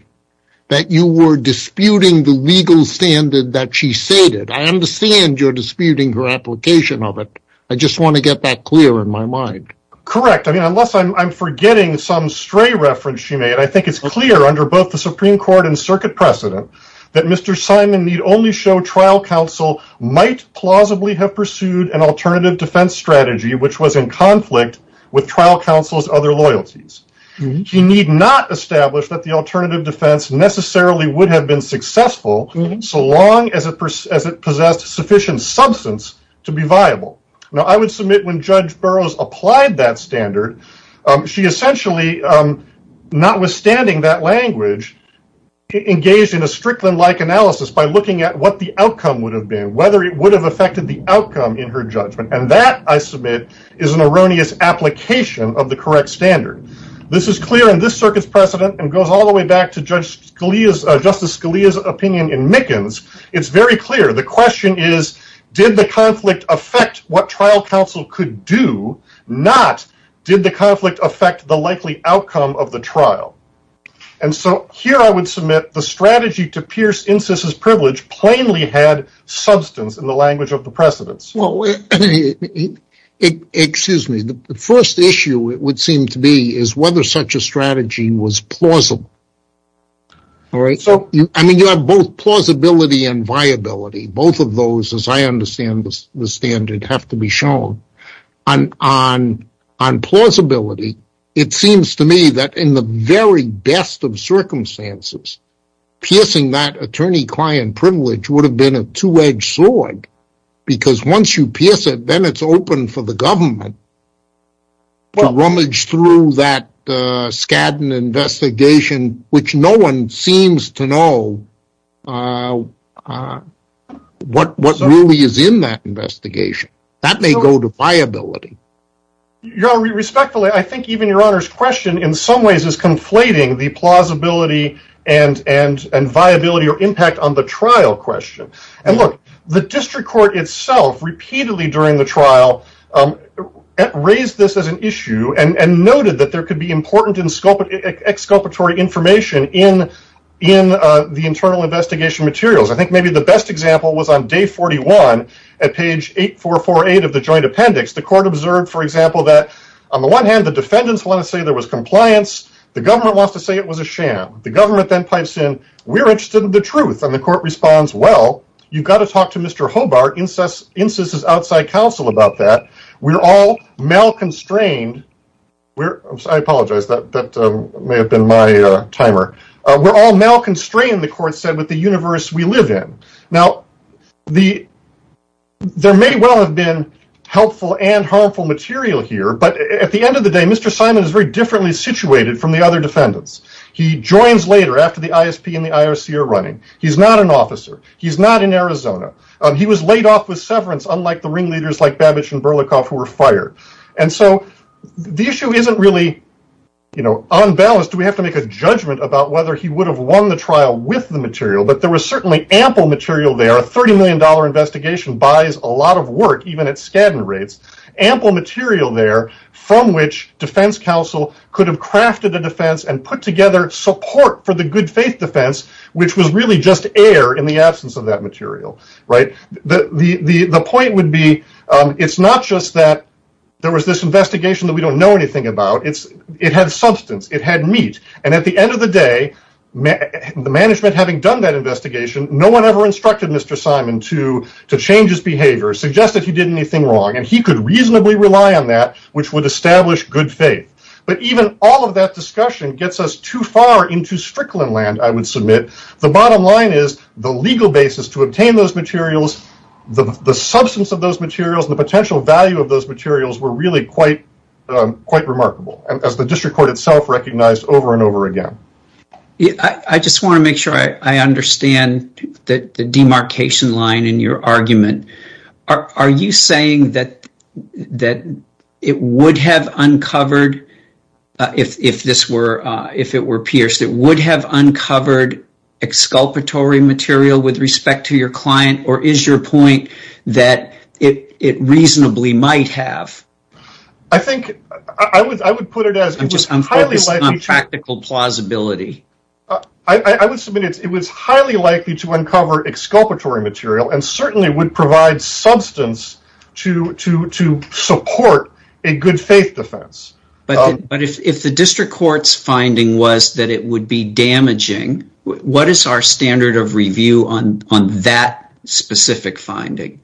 that you were disputing the legal standard that she stated. I understand you're disputing her application of it. I just want to get that clear in my mind. Correct. Unless I'm forgetting some stray reference she made, I think it's clear under both the Supreme Court and circuit precedent that Mr. Simon need only show trial counsel might plausibly have pursued an alternative defense strategy which was in conflict with trial counsel's other loyalties. She need not establish that the alternative defense necessarily would have been successful so long as it possessed sufficient substance to be viable. Now, I would submit when Judge Burroughs applied that standard, she essentially, notwithstanding that language, engaged in a Strickland-like analysis by looking at what the outcome would have been, whether it would have affected the outcome in her judgment. And that, I submit, is an erroneous application of the correct standard. This is clear in this circuit precedent, and goes all the way back to Justice Scalia's opinion in Mickens. It's very clear. The question is, did the conflict affect what trial counsel could do, not did the conflict affect the likely outcome of the trial? And so here I would submit the strategy to pierce Incis' privilege plainly had substance in the language of the precedents. Excuse me. The first issue it would seem to be is whether such a strategy was plausible. I mean, you have both plausibility and viability. Both of those, as I understand the standard, have to be shown. On plausibility, it seems to me that in the very best of circumstances, piercing that attorney-client privilege would have been a two-edged sword because once you pierce it, then it's open for the government to rummage through that scant investigation, which no one seems to know what really is in that investigation. That may go to viability. Your Honor, respectfully, I think even Your Honor's question in some ways is conflating the plausibility and viability or impact on the trial question. And look, the district court itself repeatedly during the trial raised this as an issue and noted that there could be important exculpatory information in the internal investigation materials. I think maybe the best example was on day 41 at page 8448 of the joint appendix. The court observed, for example, that on the one hand, the defendants want to say there was compliance. The government wants to say it was a sham. The government then types in, we're interested in the truth, and the court responds, well, you've got to talk to Mr. Hobart, INCIS's outside counsel, about that. We're all malconstrained. I apologize, that may have been my timer. We're all malconstrained, the court said, with the universe we live in. Now, there may well have been helpful and harmful material here, but at the end of the day, Mr. Simon is very differently situated from the other defendants. He joins later after the ISP and the IOC are running. He's not an officer. He's not in Arizona. He was laid off with severance, unlike the ringleaders like Babich and Berlikoff who were fired. And so the issue isn't really unbalanced. We have to make a judgment about whether he would have won the trial with the material, but there was certainly ample material there. A $30 million investigation buys a lot of work, even at scanty rates. Ample material there from which defense counsel could have crafted a defense and put together support for the good faith defense, which was really just air in the absence of that material. The point would be, it's not just that there was this investigation that we don't know anything about. It had substance. It had meat. And at the end of the day, the management having done that investigation, no one ever instructed Mr. Simon to change his behavior, suggest that he did anything wrong, and he could reasonably rely on that, which would establish good faith. But even all of that discussion gets us too far into strickland land, I would submit. The bottom line is the legal basis to obtain those materials, the substance of those materials, the potential value of those materials were really quite remarkable, as the district court itself recognized over and over again. I just want to make sure I understand the demarcation line in your argument. Are you saying that it would have uncovered, if it were pierced, it would have uncovered exculpatory material with respect to your client, or is your point that it reasonably might have? I think I would put it as unpractical plausibility. I would submit it was highly likely to uncover exculpatory material and certainly would provide substance to support a good faith defense. But if the district court's finding was that it would be damaging, what is our standard of review on that specific finding?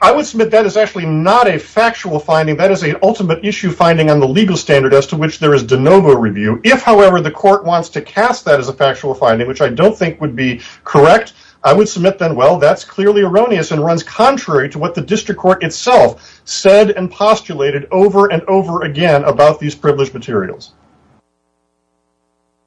I would submit that is actually not a factual finding, that is an ultimate issue finding on the legal standard as to which there is de novo review. If, however, the court wants to cast that as a factual finding, which I don't think would be correct, I would submit that that is clearly erroneous and runs contrary to what the district court itself said and postulated over and over again about these privileged materials.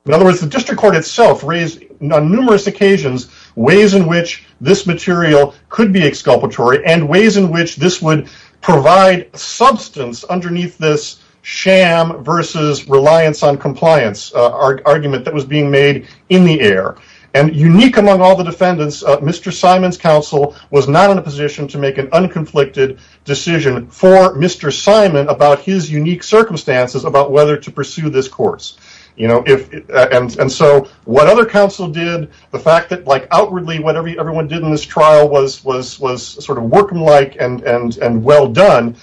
In other words, the district court itself raised on numerous occasions ways in which this material could be exculpatory and ways in which this would provide substance underneath this sham versus reliance on compliance argument that was being made in the air. And unique among all the defendants, Mr. Simon's counsel was now in a position to make an unconflicted decision for Mr. Simon about his unique circumstances about whether to pursue this course. And so what other counsel did, the fact that like outwardly what everyone did in this trial was sort of working like and well done,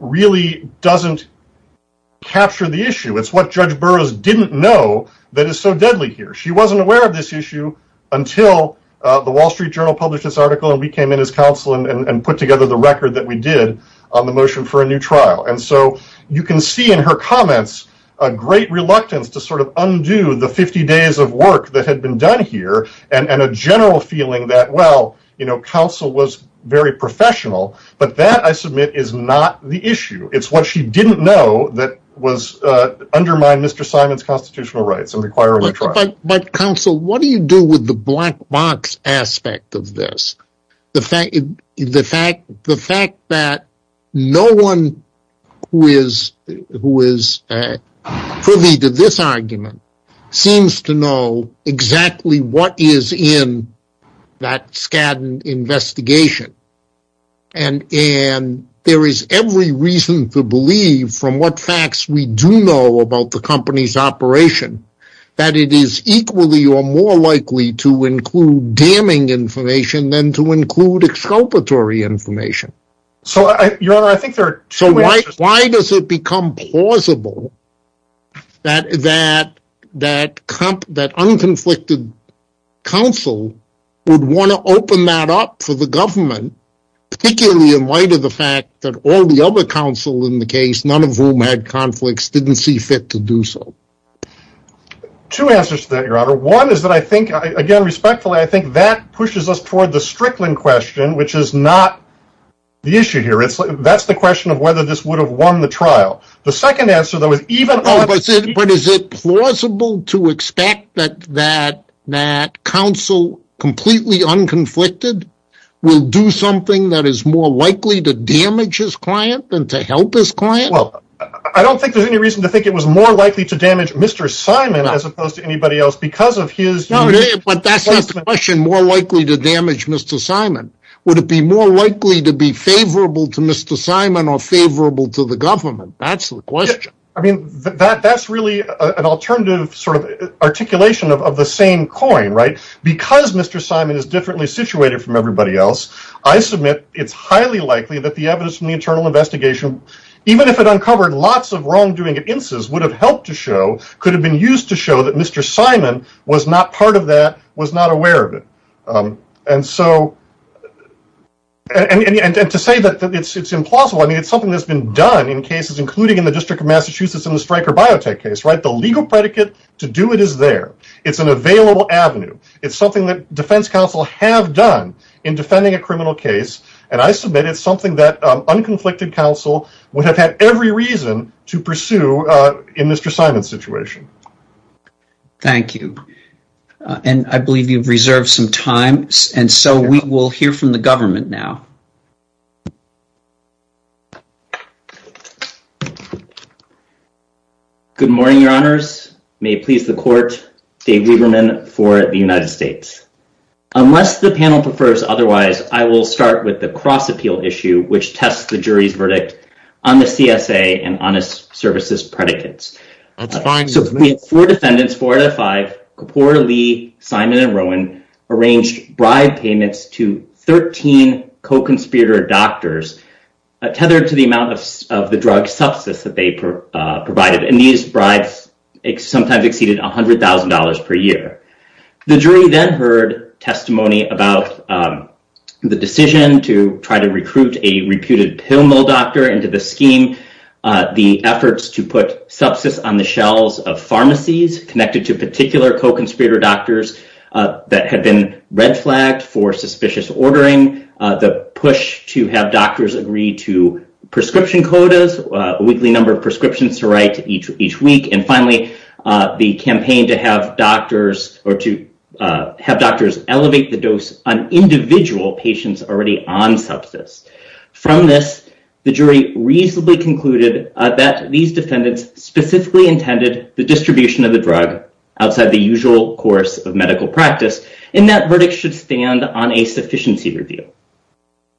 really doesn't capture the issue. It's what Judge Burroughs didn't know that is so deadly here. She wasn't aware of this issue until the Wall Street Journal published this article and we came in as counsel and put together the record that we did on the motion for a new trial. And so you can see in her comments a great reluctance to sort of undo the 50 days of work that had been done here and a general feeling that, well, counsel was very professional, but that, I submit, is not the issue. It's what she didn't know that undermined Mr. Simon's constitutional rights of requiring a trial. But, counsel, what do you do with the black box aspect of this? The fact that no one who is privy to this argument seems to know exactly what is in that Skadden investigation. And there is every reason to believe from what facts we do know about the company's operation that it is equally or more likely to include damning information than to include exculpatory information. So why does it become plausible that unconflicted counsel would want to open that up for the government, particularly in light of the fact that all the other counsel in the case, none of whom had conflicts, didn't see fit to do so? Two answers to that, Your Honor. One is that I think, again, respectfully, I think that pushes us toward the Strickland question, which is not the issue here. That's the question of whether this would have won the trial. The second answer, though, is even opposite. But is it plausible to expect that counsel, completely unconflicted, will do something that is more likely to damage his client than to help his client? Well, I don't think there's any reason to think it was more likely to damage Mr. Simon as opposed to anybody else because of his... But that's the question, more likely to damage Mr. Simon. Would it be more likely to be favorable to Mr. Simon or favorable to the government? That's the question. I mean, that's really an alternative sort of articulation of the same coin, right? Because Mr. Simon is differently situated from everybody else, I submit it's highly likely that the evidence from the internal investigation, even if it uncovered lots of wrongdoing at IMSSS, would have helped to show, could have been used to show that Mr. Simon was not part of that, was not aware of it. And so, and to say that it's implausible, I mean, it's something that's been done in cases, including in the District of Massachusetts and the Stryker Biotech case, right? The legal predicate to do it is there. It's an available avenue. It's something that defense counsel have done in defending a criminal case, and I submit it's something that unconflicted counsel would have had every reason to pursue in Mr. Simon's situation. Thank you. And I believe you've reserved some time, and so we will hear from the government now. Good morning, Your Honors. May it please the Court, Dave Gugelman for the United States. Unless the panel prefers otherwise, I will start with the cross-appeal issue, which tests the jury's verdict on the CSA and honest services predicates. Four defendants, four out of five, Kapoor, Lee, Simon, and Rowan, arranged bribe payments to 13 co-conspirator doctors, tethered to the amount of the drug substance that they provided. And these bribes sometimes exceeded $100,000 per year. The jury then heard testimony about the decision to try to recruit a reputed pill mill doctor into the scheme, the efforts to put substance on the shelves of pharmacies connected to particular co-conspirator doctors that had been red flagged for suspicious ordering, the push to have doctors agree to prescription quotas, a weekly number of prescriptions to write each week, and finally, the campaign to have doctors elevate the dose on individual patients already on substance. From this, the jury reasonably concluded that these defendants specifically intended the distribution of the drug outside the usual course of medical practice, and that verdict should stand on a sufficiency review.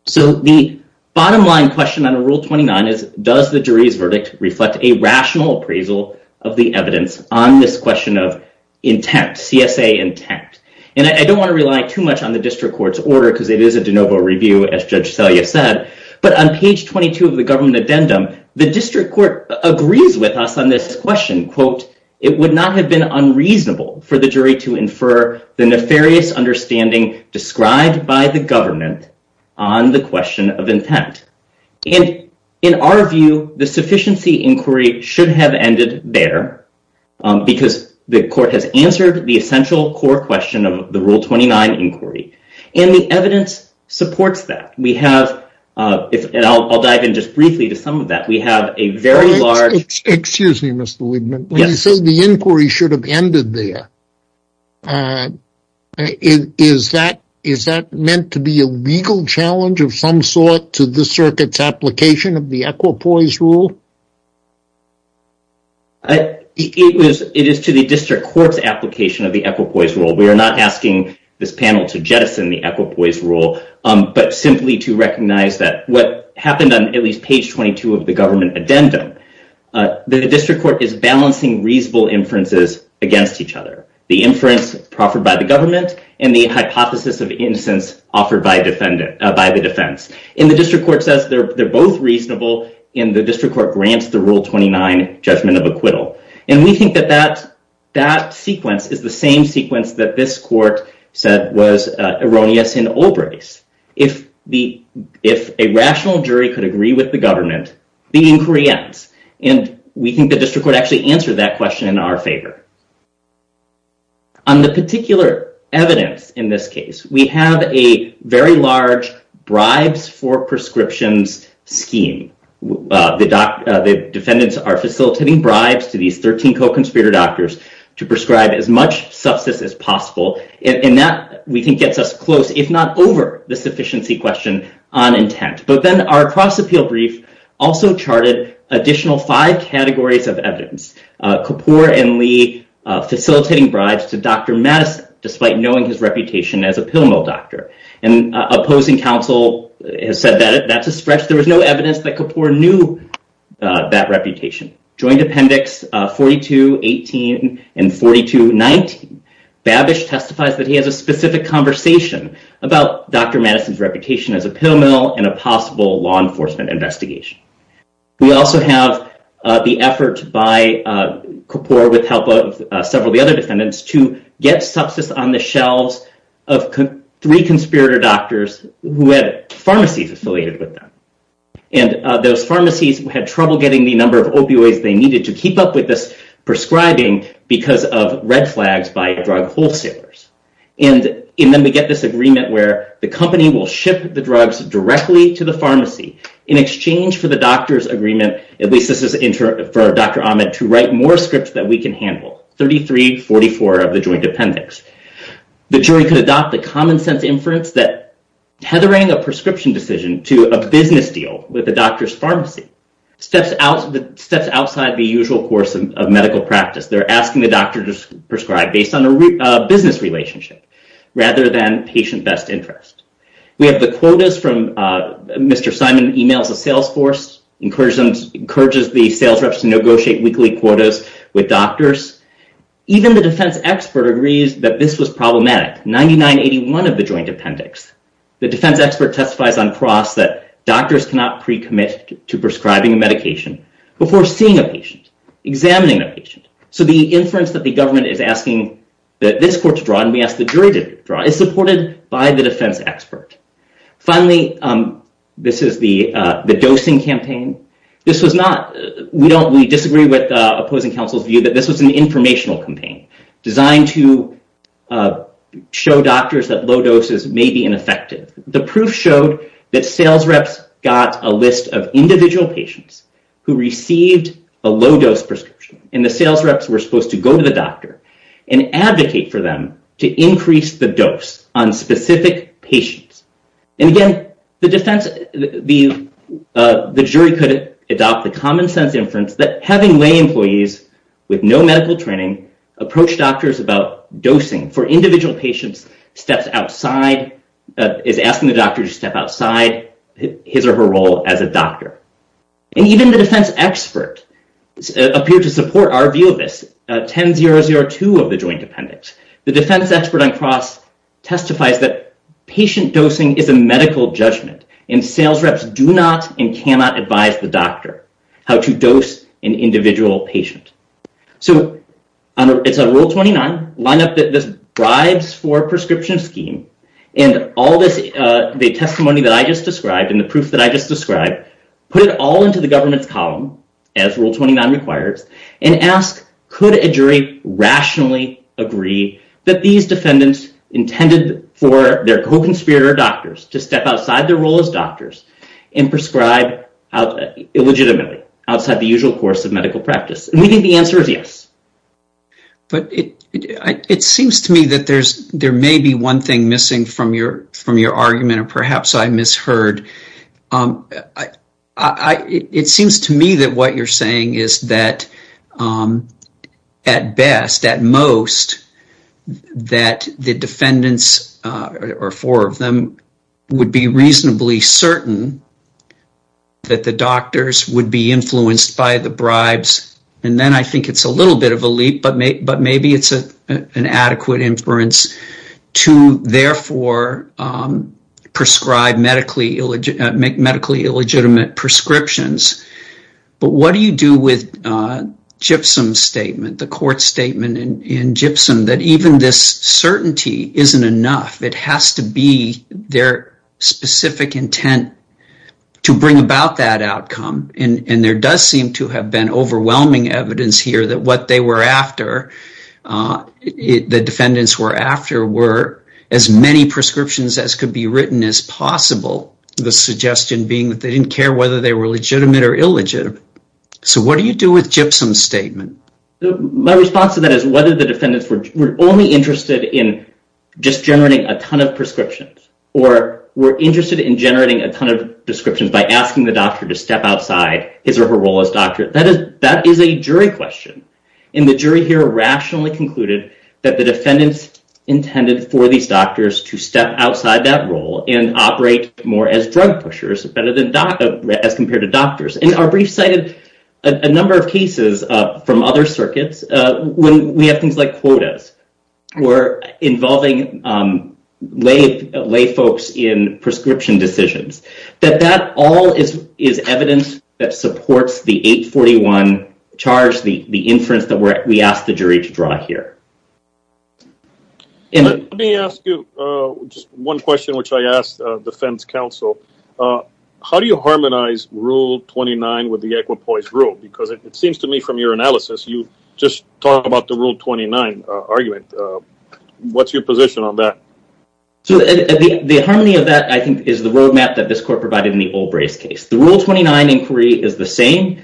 So the bottom line question on Rule 29 is, does the jury's verdict reflect a rational appraisal of the evidence on this question of intent, CSA intent? And I don't want to rely too much on the district court's order because it is a de novo review, as Judge Selye said, but on page 22 of the government addendum, the district court agreed with us on this question. It would not have been unreasonable for the jury to infer the nefarious understanding described by the government on the question of intent. In our view, the sufficiency inquiry should have ended there because the court has answered the essential core question of the Rule 29 inquiry, and the evidence supports that. I'll dive in just briefly to some of that. We have a very large… Is that meant to be a legal challenge of some sort to the circuit's application of the Equipoise Rule? It is to the district court's application of the Equipoise Rule. We are not asking this panel to jettison the Equipoise Rule, but simply to recognize that what happened on at least page 22 of the government addendum, the district court is balancing reasonable inferences against each other. The inference proffered by the government and the hypothesis of innocence offered by the defense. The district court says they're both reasonable, and the district court grants the Rule 29 judgment of acquittal. We think that that sequence is the same sequence that this court said was erroneous in Olbrich's. If a rational jury could agree with the government, the inquiry ends. And we think the district court actually answered that question in our favor. On this particular evidence in this case, we have a very large bribes for prescriptions scheme. The defendants are facilitating bribes to these 13 co-conspirator doctors to prescribe as much substance as possible, and that, we think, gets us close, if not over the sufficiency question on intent. But then our cross-appeal brief also charted additional five categories of evidence. Kapoor and Lee facilitating bribes to Dr. Madison despite knowing his reputation as a pill mill doctor. And opposing counsel has said that that's a stretch. There was no evidence that Kapoor knew that reputation. Joint appendix 42-18 and 42-19, Babbage testifies that he has a specific conversation about Dr. Madison's reputation as a pill mill in a possible law enforcement investigation. We also have the effort by Kapoor with help of several of the other defendants to get substance on the shelves of three conspirator doctors who had pharmacies affiliated with them. And those pharmacies had trouble getting the number of opioids they needed to keep up with this prescribing because of red flags by drug wholesalers. And then we get this agreement where the company will ship the drugs directly to the pharmacy in exchange for the doctor's agreement, at least this is for Dr. Ahmed, to write more scripts that we can handle. 33-44 of the joint appendix. The jury can adopt the common sense inference that tethering a prescription decision to a business deal with the doctor's pharmacy steps outside the usual course of medical practice. They're asking the doctor to prescribe based on a business relationship rather than patient best interest. We have the quotas from Mr. Simon emails the sales force, encourages the sales reps to negotiate weekly quotas with doctors. Even the defense expert agrees that this is problematic. 99-81 of the joint appendix. The defense expert testifies on cross that doctors cannot pre-commit to prescribing medication before seeing a patient, examining a patient. So the inference that the government is asking that this court to draw and we ask the jury to draw is supported by the defense expert. Finally, this is the dosing campaign. We disagree with opposing counsel's view that this is an informational campaign designed to show doctors that low doses may be ineffective. The proof showed that sales reps got a list of individual patients who received a low-dose prescription, and the sales reps were supposed to go to the doctor and advocate for them to increase the dose on specific patients. Again, the jury could adopt the common sense inference that having lay employees with no medical training approach doctors about dosing for individual patients is asking the doctor to step outside his or her role as a doctor. Even the defense expert appeared to support our view of this. 10-002 of the joint appendix. The defense expert on cross testifies that patient dosing is a medical judgment, and sales reps do not and cannot advise the doctor how to dose an individual patient. Rule 29, line up the bribes for prescription scheme and all the testimony that I just described and the proof that I just described, put it all into the governance column, as Rule 29 requires, and ask could a jury rationally agree that these defendants intended for their coping spirit or doctors to step outside their role as doctors and prescribe illegitimately outside the usual course of medical practice. Maybe the answer is yes. But it seems to me that there may be one thing missing from your argument or perhaps I misheard. It seems to me that what you're saying is that at best, at most, that the defendants or four of them would be reasonably certain that the doctors would be influenced by the bribes, and then I think it's a little bit of a leap, but maybe it's an adequate inference, to therefore prescribe medically illegitimate prescriptions. But what do you do with Gypsum's statement, the court statement in Gypsum, that even this certainty isn't enough? It has to be their specific intent to bring about that outcome, and there does seem to have been overwhelming evidence here that what they were after, the defendants were after, were as many prescriptions as could be written as possible, the suggestion being that they didn't care whether they were legitimate or illegitimate. So what do you do with Gypsum's statement? My response to that is whether the defendants were only interested in just generating a ton of prescriptions, or were interested in generating a ton of prescriptions by asking the doctor to step outside his or her role as doctor. That is a jury question, and the jury here rationally concluded that the defendants intended for these doctors to step outside that role and operate more as drug pushers as compared to doctors. And our brief cited a number of cases from other circuits when we had things like quotas, or involving lay folks in prescription decisions, that that all is evidence that supports the 841 charge, the inference that we asked the jury to draw here. Let me ask you one question which I asked the defense counsel. How do you harmonize Rule 29 with the Equipoise Rule? Because it seems to me from your analysis, you just talked about the Rule 29 argument. What's your position on that? The harmony of that I think is the roadmap that this court provided in the Olbrich case. The Rule 29 inquiry is the same.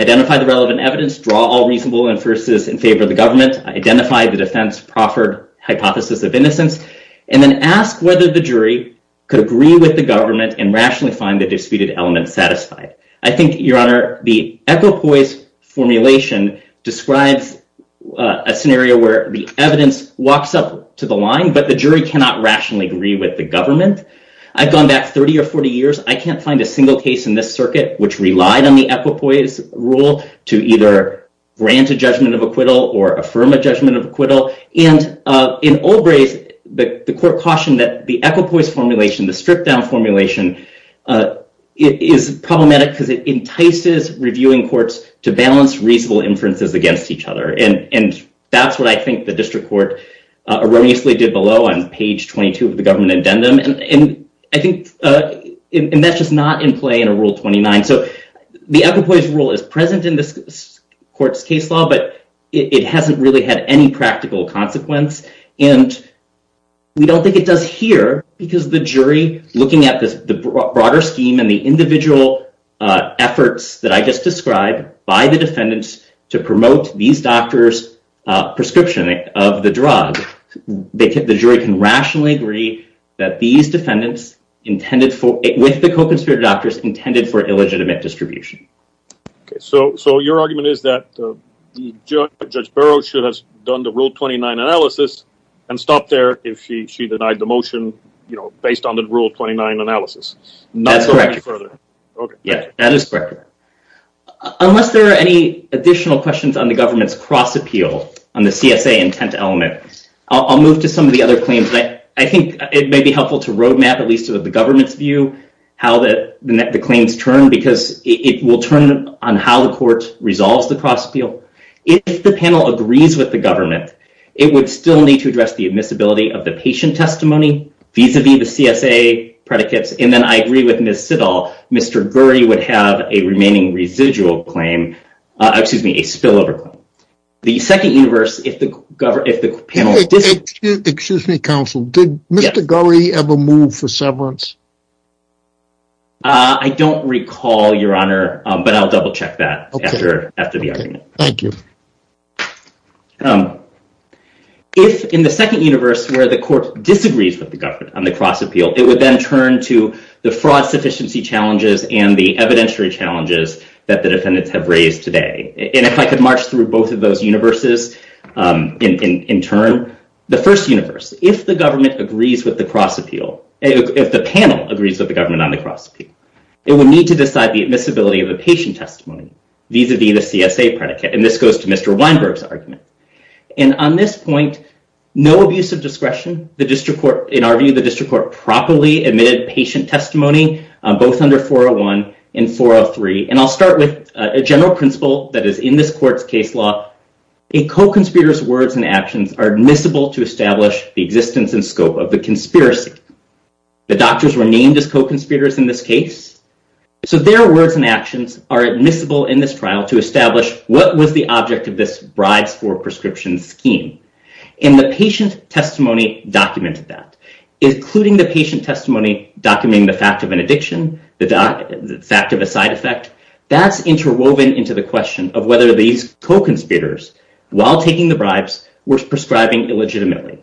Identify the relevant evidence, draw all reasonable inferences in favor of the government, identify the defense's proper hypothesis of innocence, and then ask whether the jury could agree with the government and rationally find the disputed element satisfied. I think, Your Honor, the Equipoise formulation describes a scenario where the evidence walks up to the line, but the jury cannot rationally agree with the government. I've gone back 30 or 40 years. I can't find a single case in this circuit which relied on the Equipoise Rule to either grant a judgment of acquittal or affirm a judgment of acquittal. And in Olbrich, the court cautioned that the Equipoise formulation, the stripped-down formulation, is problematic because it entices reviewing courts to balance reasonable inferences against each other. And that's what I think the district court erroneously did below on page 22 of the government addendum. And that's just not in play in a Rule 29. So the Equipoise Rule is present in this court's case law, but it hasn't really had any practical consequence. And we don't think it does here, because the jury, looking at the broader scheme and the individual efforts that I just described by the defendants to promote these doctors' prescription of the drug, the jury can rationally agree that these defendants, with the co-conspirator doctors, intended for illegitimate distribution. So your argument is that Judge Barrow should have done the Rule 29 analysis and stopped there if she denied the motion based on the Rule 29 analysis. That's correct. Yes, that is correct. Unless there are any additional questions on the government's cross-appeals, on the CSA intent element, I'll move to some of the other claims. I think it may be helpful to roadmap, at least with the government's view, how the claims turn, because it will turn on how the courts resolve the cross-appeal. If the panel agrees with the government, it would still need to address the admissibility of the patient testimony vis-à-vis the CSA predicates. And then I agree with Ms. Sidall, Mr. Gurry would have a remaining residual claim, excuse me, a spillover claim. The second universe, if the panel... Excuse me, counsel. Did Mr. Gurry ever move for severance? I don't recall, Your Honor, but I'll double-check that after the argument. Thank you. If, in the second universe, where the court disagrees with the government on the cross-appeal, it would then turn to the fraud sufficiency challenges and the evidentiary challenges that the defendants have raised today. And if I could march through both of those universes in turn. The first universe, if the government agrees with the cross-appeal, if the panel agrees with the government on the cross-appeal, it would need to decide the admissibility of the patient testimony vis-à-vis the CSA predicate, and this goes to Mr. Weinberg's argument. And on this point, no abuse of discretion. In our view, the district court properly admitted patient testimony, both under 401 and 403. And I'll start with a general principle that is in this court's case law. A co-conspirator's words and actions are admissible to establish the existence and scope of the conspiracy. The doctors were named as co-conspirators in this case, so their words and actions are admissible in this trial to establish what was the object of this bribe-for-prescription scheme. And the patient testimony documented that, including the patient testimony documenting the fact of an addiction, the fact of a side effect. That's interwoven into the question of whether these co-conspirators, while taking the bribes, were prescribing illegitimately.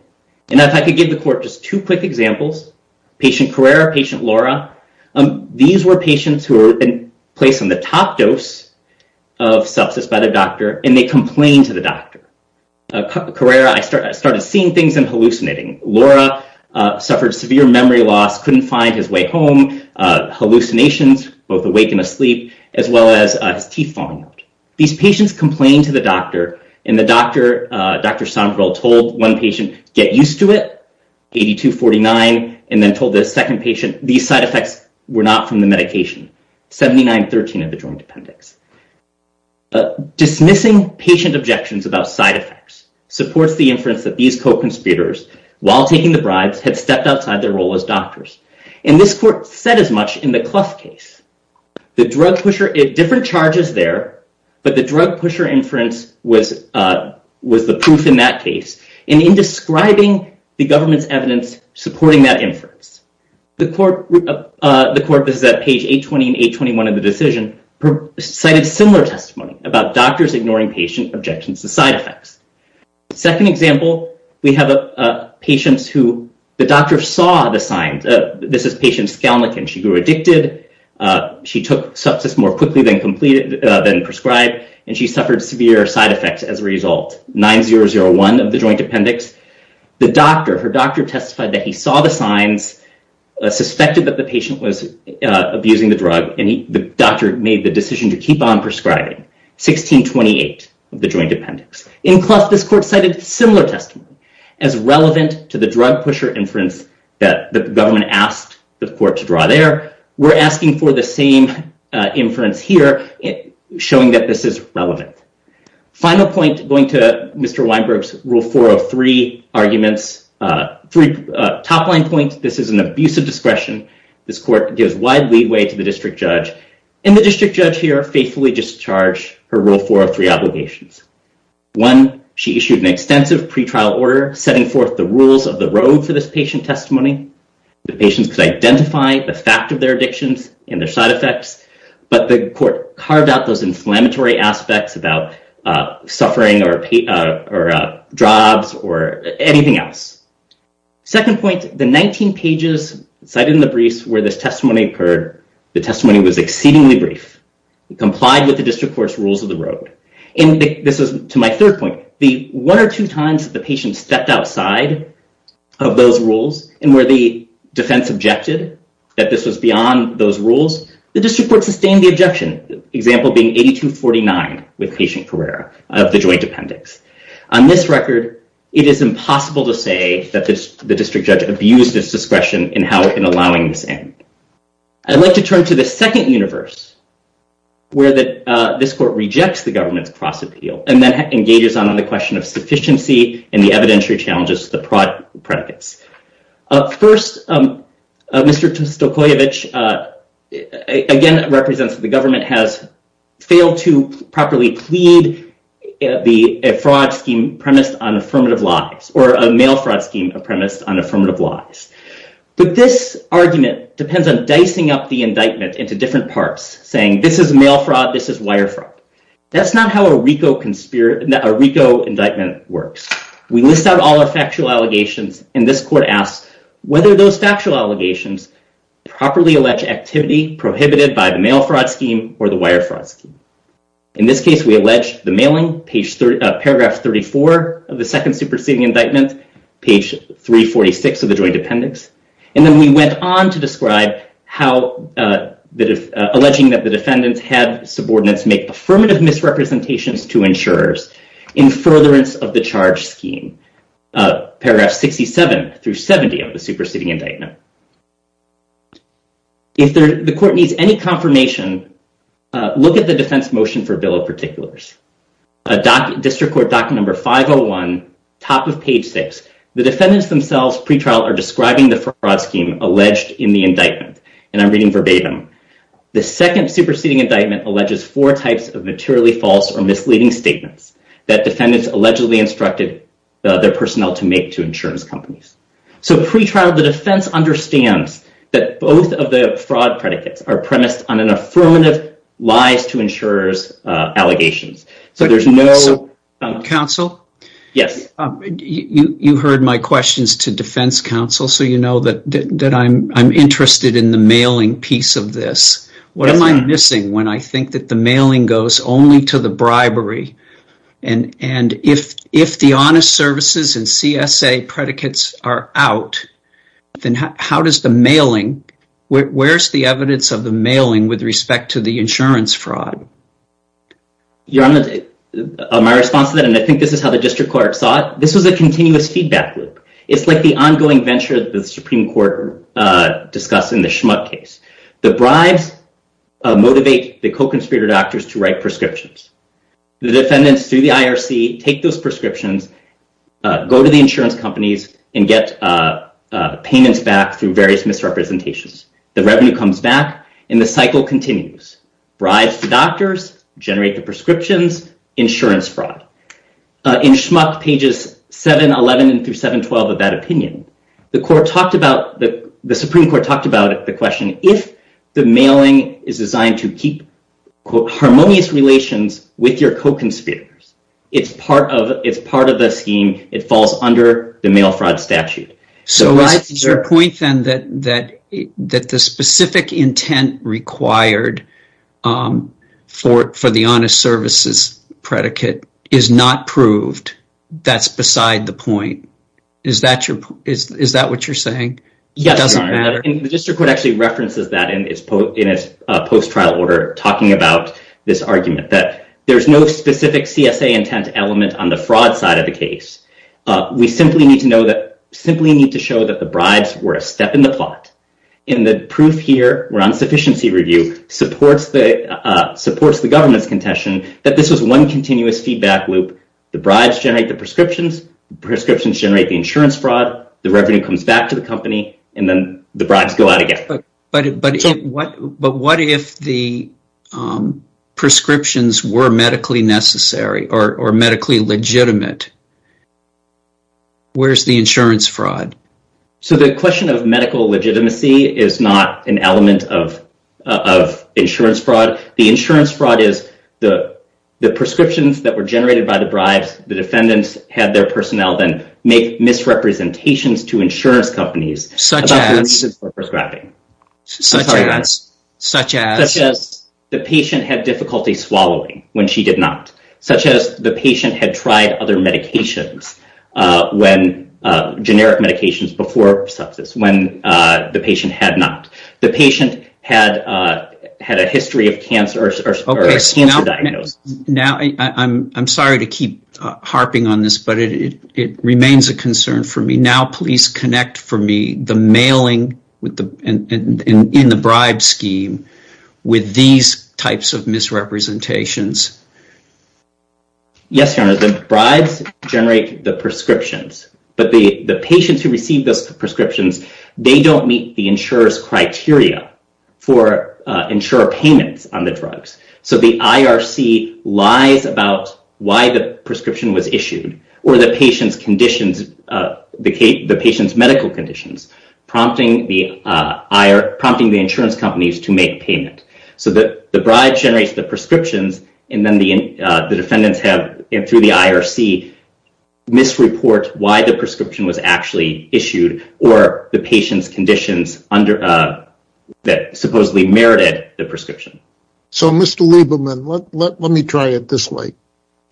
And I could give the court just two quick examples, patient Carrera, patient Laura. These were patients who were placed on the top dose of substance by the doctor, and they complained to the doctor. Carrera, I started seeing things and hallucinating. Laura suffered severe memory loss, couldn't find his way home. Hallucinations, both awake and asleep, as well as teeth falling out. These patients complained to the doctor, and the doctor, Dr. Stomperl, told one patient, get used to it, 82-49, and then told the second patient, these side effects were not from the medication, 79-13 of the joint appendix. Dismissing patient objections about side effects supports the inference that these co-conspirators, while taking the bribes, had stepped outside their role as doctors. And this court said as much in the Clough case. The drug pusher, different charges there, but the drug pusher inference was the proof in that case. And in describing the government's evidence supporting that inference, the court, this is at page 820 and 821 of the decision, cited similar testimony about doctors ignoring patient objections to side effects. Second example, we have patients who the doctor saw the signs. This is patient Skalnik, and she grew addicted. She took substance more quickly than prescribed, and she suffered severe side effects as a result. 9001 of the joint appendix. The doctor, her doctor testified that he saw the signs, suspected that the patient was abusing the drug, and the doctor made the decision to keep on prescribing. 1628 of the joint appendix. In Clough, this court cited similar testimony as relevant to the drug pusher inference that the government asked the court to draw there. We're asking for the same inference here, showing that this is relevant. Final points going to Mr. Weinberg's Rule 403 arguments. Three top-line points. This is an abuse of discretion. This court gives wide leeway to the district judge, and the district judge here faithfully discharged her Rule 403 obligations. One, she issued an extensive pretrial order setting forth the rules of the road for this patient testimony. The patient could identify the fact of their addiction and their side effects, but the court carved out those inflammatory aspects about suffering or drugs or anything else. Second point, the 19 pages cited in the briefs where this testimony occurred, the testimony was exceedingly brief. It complied with the district court's rules of the road. And this is to my third point. The one or two times that the patient stepped outside of those rules and where the defense objected that this was beyond those rules, the district court sustained the objection, the example being 8249 with patient Carrera of the joint appendix. On this record, it is impossible to say that the district judge abused this discretion in allowing this in. I'd like to turn to the second universe where this court rejects the government's cross-appeal and then engages on the question of sufficiency and the evidentiary challenges of the predicates. First, Mr. Stokoyevich again represents that the government has failed to properly plead a fraud scheme premised on affirmative laws or a male fraud scheme premised on affirmative laws. But this argument depends on dicing up the indictment into different parts saying this is male fraud, this is wire fraud. That's not how a RICO indictment works. We list out all our factual allegations and this court asks whether those factual allegations properly allege activity prohibited by the male fraud scheme or the wire fraud scheme. In this case, we allege the mailing, paragraph 34 of the second superseding indictment, page 346 of the joint appendix. And then we went on to describe alleging that the defendants had subordinates make affirmative misrepresentations to insurers in furtherance of the charge scheme, paragraphs 67 through 70 of the superseding indictment. If the court needs any confirmation, look at the defense motion for bill of particulars. District Court document number 501, top of page 6. The defendants themselves, pretrial, are describing the fraud scheme alleged in the indictment. And I'm reading verbatim. The second superseding indictment alleges four types of materially false or misleading statements that defendants allegedly instructed their personnel to make to insurance companies. So pretrial, the defense understands that both of the fraud predicates are premised on an affirmative lies to insurers allegations. So there's no... So you know that I'm interested in the mailing piece of this. What am I missing when I think that the mailing goes only to the bribery? And if the honest services and CSA predicates are out, then how does the mailing... Where's the evidence of the mailing with respect to the insurance fraud? Yeah, my response to that, and I think this is how the district court saw it, this is a continuous feedback loop. It's like the ongoing venture of the Supreme Court discussed in the Schmuck case. The bribes motivate the co-conspirator doctors to write prescriptions. The defendants do the IRC, take those prescriptions, go to the insurance companies and get payments back through various misrepresentations. The revenue comes back, and the cycle continues. Bribes the doctors, generate the prescriptions, insurance fraud. In Schmuck, pages 711 through 712 of that opinion, the Supreme Court talked about the question, if the mailing is designed to keep harmonious relations with your co-conspirators, it's part of a scheme, it falls under the mail fraud statute. So is your point then that the specific intent required for the honest services predicate is not proved? That's beside the point. Is that what you're saying? Yes, Your Honor. The district court actually references that in its post-trial order, talking about this argument that there's no specific CSA intent element on the fraud side of the case. We simply need to show that the bribes were a step in the plot, and the proof here around sufficiency review supports the government's contention that this is one continuous feedback loop. The bribes generate the prescriptions, the prescriptions generate the insurance fraud, the revenue comes back to the company, and then the bribes go out again. But what if the prescriptions were medically necessary or medically legitimate? Where's the insurance fraud? So the question of medical legitimacy is not an element of insurance fraud. The insurance fraud is the prescriptions that were generated by the bribes, the defendants had their personnel then make misrepresentations to insurance companies about the reasons for prescribing. Such as? Such as the patient had difficulty swallowing when she did not. Such as the patient had tried other medications generic medications before sepsis when the patient had not. The patient had a history of cancer or a cancer diagnosis. Now, I'm sorry to keep harping on this, but it remains a concern for me. Now please connect for me the mailing in the bribe scheme with these types of misrepresentations. Yes, Your Honor. The bribes generate the prescriptions, but the patients who receive those prescriptions, they don't meet the insurer's criteria for insurer payments on the drugs. So the IRC lies about why the prescription was issued or the patient's medical conditions, prompting the insurance companies to make payments. So the bribe generates the prescriptions and then the defendants have, through the IRC, misreport why the prescription was actually issued or the patient's conditions that supposedly merited the prescription. So Mr. Lieberman, let me try it this way.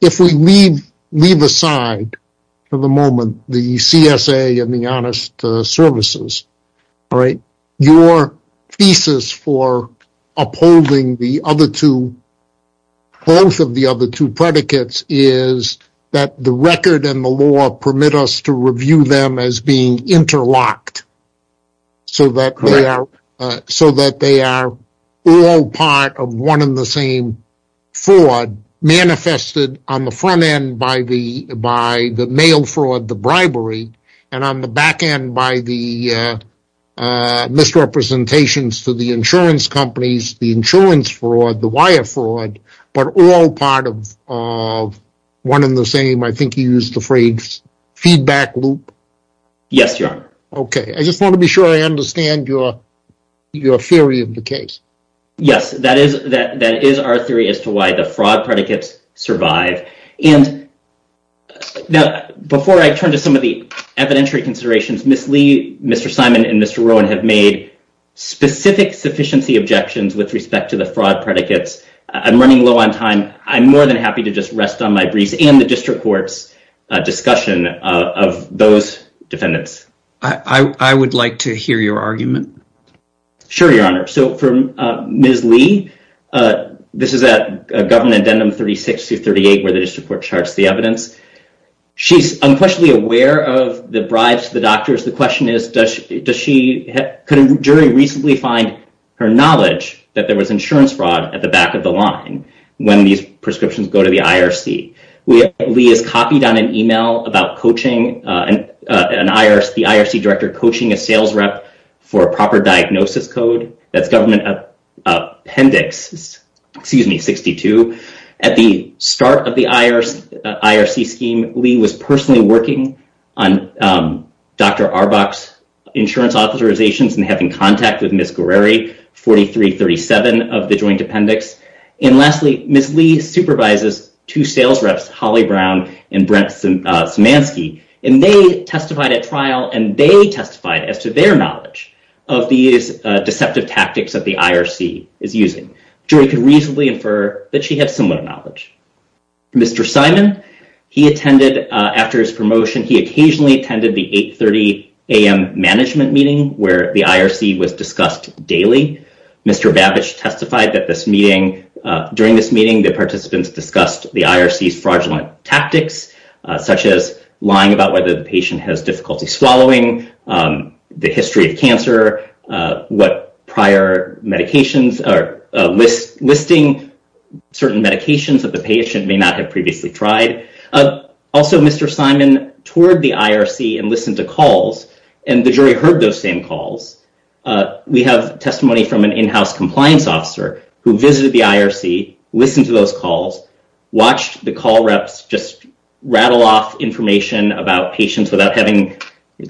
If we leave aside for the moment the CSA and the Honest Services, your thesis for upholding the other two both of the other two predicates is that the record and the law permit us to review them as being interlocked so that they are all part of one and the same fraud manifested on the front end by the mail fraud, the bribery, and on the back end by the misrepresentations to the insurance companies, the insurance fraud, the wire fraud, but all part of one and the same, I think you used the phrase, feedback loop? Yes, Your Honor. Okay. I just want to be sure I understand your theory of the case. Yes, that is our theory as to why the fraud predicates survive. And before I turn to some of the evidentiary considerations, Ms. Lee, Mr. Simon, and Mr. Rowan have made specific sufficiency objections with respect to the fraud predicates. I'm running low on time. I'm more than happy to just rest on my brief and the district court's discussion of those defendants. I would like to hear your argument. Sure, Your Honor. So for Ms. Lee, this is at Government Addendum 36-38 where the district court charts the evidence. She's unquestionably aware of the bribes to the doctors. The question is, could a jury recently find her knowledge that there was insurance fraud at the back of the line when these prescriptions go to the IRC? Lee has copied on an email about the IRC director coaching a sales rep for proper diagnosis code. That's Government Appendix 62. At the start of the IRC scheme, Lee was personally working on Dr. Arbach's insurance authorizations and having contact with Ms. Guerreri, 43-37 of the Joint Appendix. And lastly, Ms. Lee supervises two sales reps, Holly Brown and Brent Zmanski, and they testified at trial and they testified as to their knowledge of these deceptive tactics that the IRC is using. Jury could reasonably infer that she has similar knowledge. Mr. Simon, he attended, after his promotion, he occasionally attended the 8.30 a.m. management meeting where the IRC was discussed daily. Mr. Babich testified that during this meeting the participants discussed the IRC's fraudulent tactics, such as lying about whether the patient has difficulty swallowing, the history of cancer, what prior medications, or listing certain medications that the patient may not have previously tried. Also, Mr. Simon toured the IRC and listened to calls and the jury heard those same calls. We have testimony from an in-house compliance officer who visited the IRC, listened to those calls, watched the call reps just rattle off information about patients without having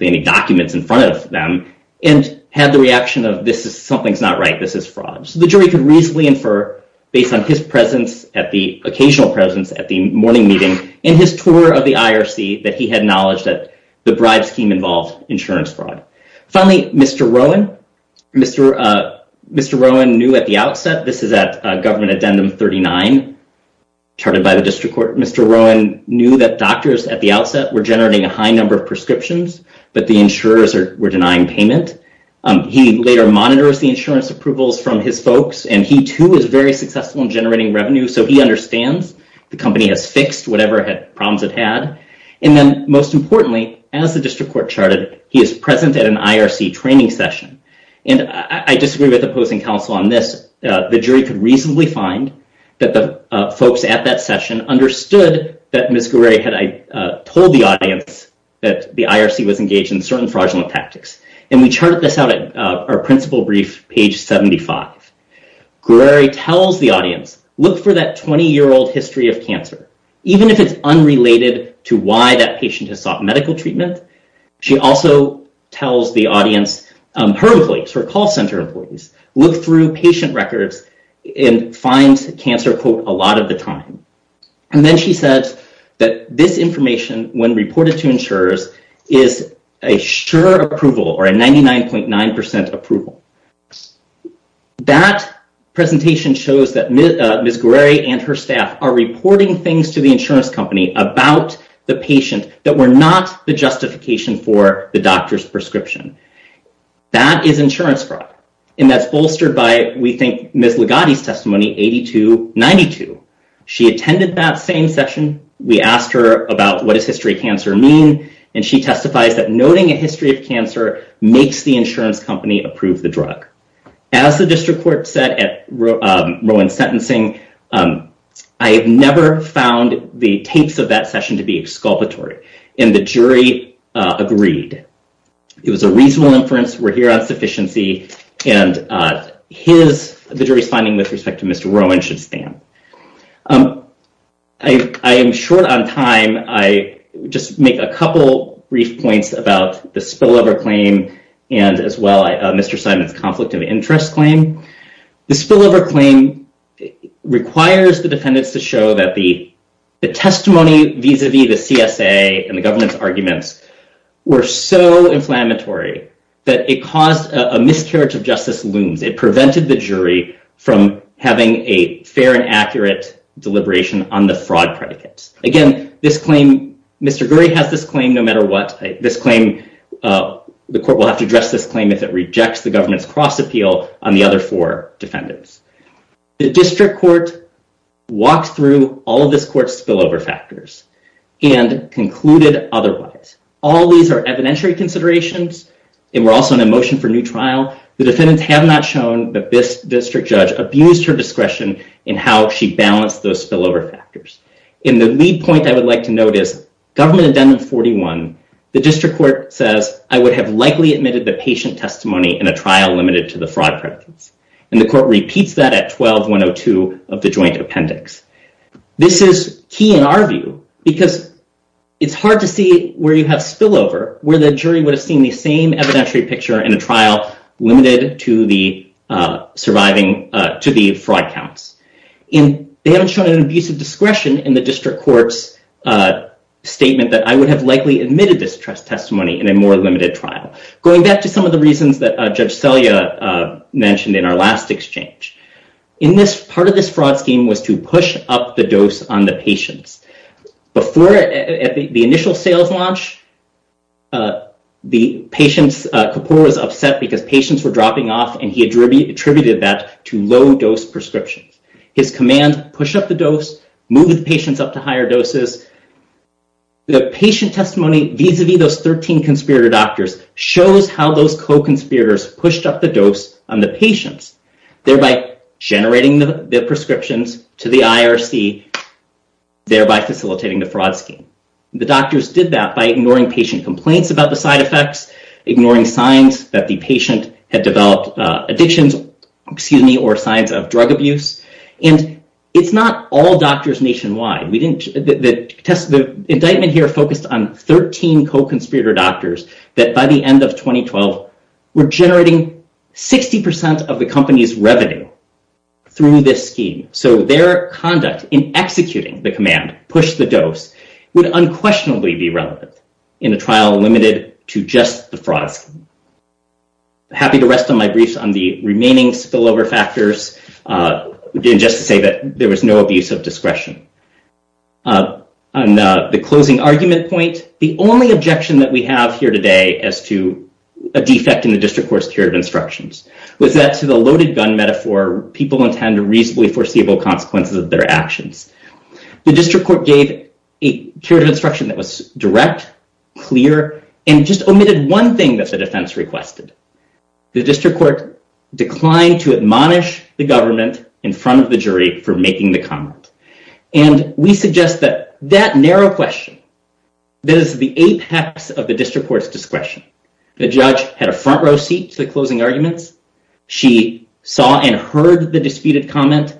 any documents in front of them, and had the reaction of, this is, something's not right, this is fraud. So the jury could reasonably infer, based on his occasional presence at the morning meeting, in his tour of the IRC, that he had knowledge that the bribe scheme involved insurance fraud. Finally, Mr. Rowan. Mr. Rowan knew at the outset, this is at government addendum 39, charted by the district court, Mr. Rowan knew that doctors at the outset were generating a high number of prescriptions, but the insurers were denying payment. He later monitors the insurance approvals from his folks and he, too, was very successful in generating revenue, so he understands the company had fixed whatever problems it had. And then, most importantly, as the district court charted, he is present at an IRC training session. And I disagree with opposing counsel on this. The jury could reasonably find that the folks at that session understood that Ms. Gouray had told the audience that the IRC was engaged in certain fraudulent tactics. And we charted this out at our principal brief, page 75. Gouray tells the audience, look for that 20-year-old history of cancer. Even if it's unrelated to why that patient has sought medical treatment, she also tells the audience, her employees, her call center employees, look through patient records and find cancer, quote, a lot of the time. And then she says that this information, when reported to insurers, is a sure approval or a 99.9% approval. That presentation shows that Ms. Gouray and her staff are reporting things to the insurance company about the patient that were not the justification for the doctor's prescription. That is insurance fraud. And that's bolstered by, we think, Ms. Ligotti's testimony, 8292. She attended that same session. We asked her about what does history of cancer mean? And she testified that noting a history of cancer makes the insurance company approve the drug. As the district court said at Rowan Sentencing, I have never found the tapes of that session to be exculpatory. And the jury agreed. It was a reasonable inference. We're here at sufficiency. And his jury's finding, with respect to Mr. Rowan, should stand. I am short on time. I'll just make a couple brief points about the spillover claim and, as well, Mr. Simon's conflict of interest claim. The spillover claim requires the defendants to show that the testimony vis-a-vis the CSA and the government's arguments were so inflammatory that it caused a miscarriage of justice wound. It prevented the jury from having a fair and accurate deliberation on the fraud predicates. Again, Mr. Gurry has this claim no matter what. The court will have to address this claim if it rejects the government's cross-appeal on the other four defendants. The district court walked through all of this court's spillover factors and concluded otherwise. All these are evidentiary considerations and were also in a motion for new trial. The defendants have not shown, but this district judge abused her discretion in how she balanced those spillover factors. And the lead point I would like to note is government amendment 41, the district court says, I would have likely admitted the patient testimony in a trial limited to the fraud predicates. And the court repeats that at 12-102 of the joint appendix. This is key in our view because it's hard to see where you have spillover, where the jury was seeing the same evidentiary picture in a trial limited to the fraud counts. And they haven't shown an abuse of discretion in the district court's statement that I would have likely admitted this testimony in a more limited trial. Going back to some of the reasons that Judge Selya mentioned in our last exchange. In this, part of this fraud scheme was to push up the dose on the patients. Before the initial sales launch, the patient's support was upset because patients were dropping off and he attributed that to low-dose prescriptions. His command, push up the dose, move the patients up to higher doses. The patient testimony vis-a-vis those 13 conspirator doctors shows how those co-conspirators pushed up the dose on the patients, thereby generating the prescriptions to the IRC, thereby facilitating the fraud scheme. The doctors did that by ignoring patient complaints about the side effects, ignoring signs that the patient had developed addictions, excuse me, or signs of drug abuse. And it's not all doctors nationwide. The indictment here focused on 13 co-conspirator doctors that by the end of 2012 were generating 60% of the company's revenue through this scheme. So their conduct in executing the command, push the dose, would unquestionably be relevant in a trial limited to just the fraud scheme. Happy to rest on my grease on the remaining spillover factors and just to say that there was no abuse of discretion. On the closing argument point, the only objection that we have here today as to a defect in the District Court's period of instructions was that to the loaded gun metaphor, people intended reasonably foreseeable consequences of their actions. The District Court gave a period of instruction that was direct, clear, and just omitted one thing that the defense requested. The District Court declined to admonish the government in front of the jury for making the comment. And we suggest that that narrow question is the apex of the District Court's discretion. The judge had a front row seat to the closing arguments. She saw and heard the disputed comments,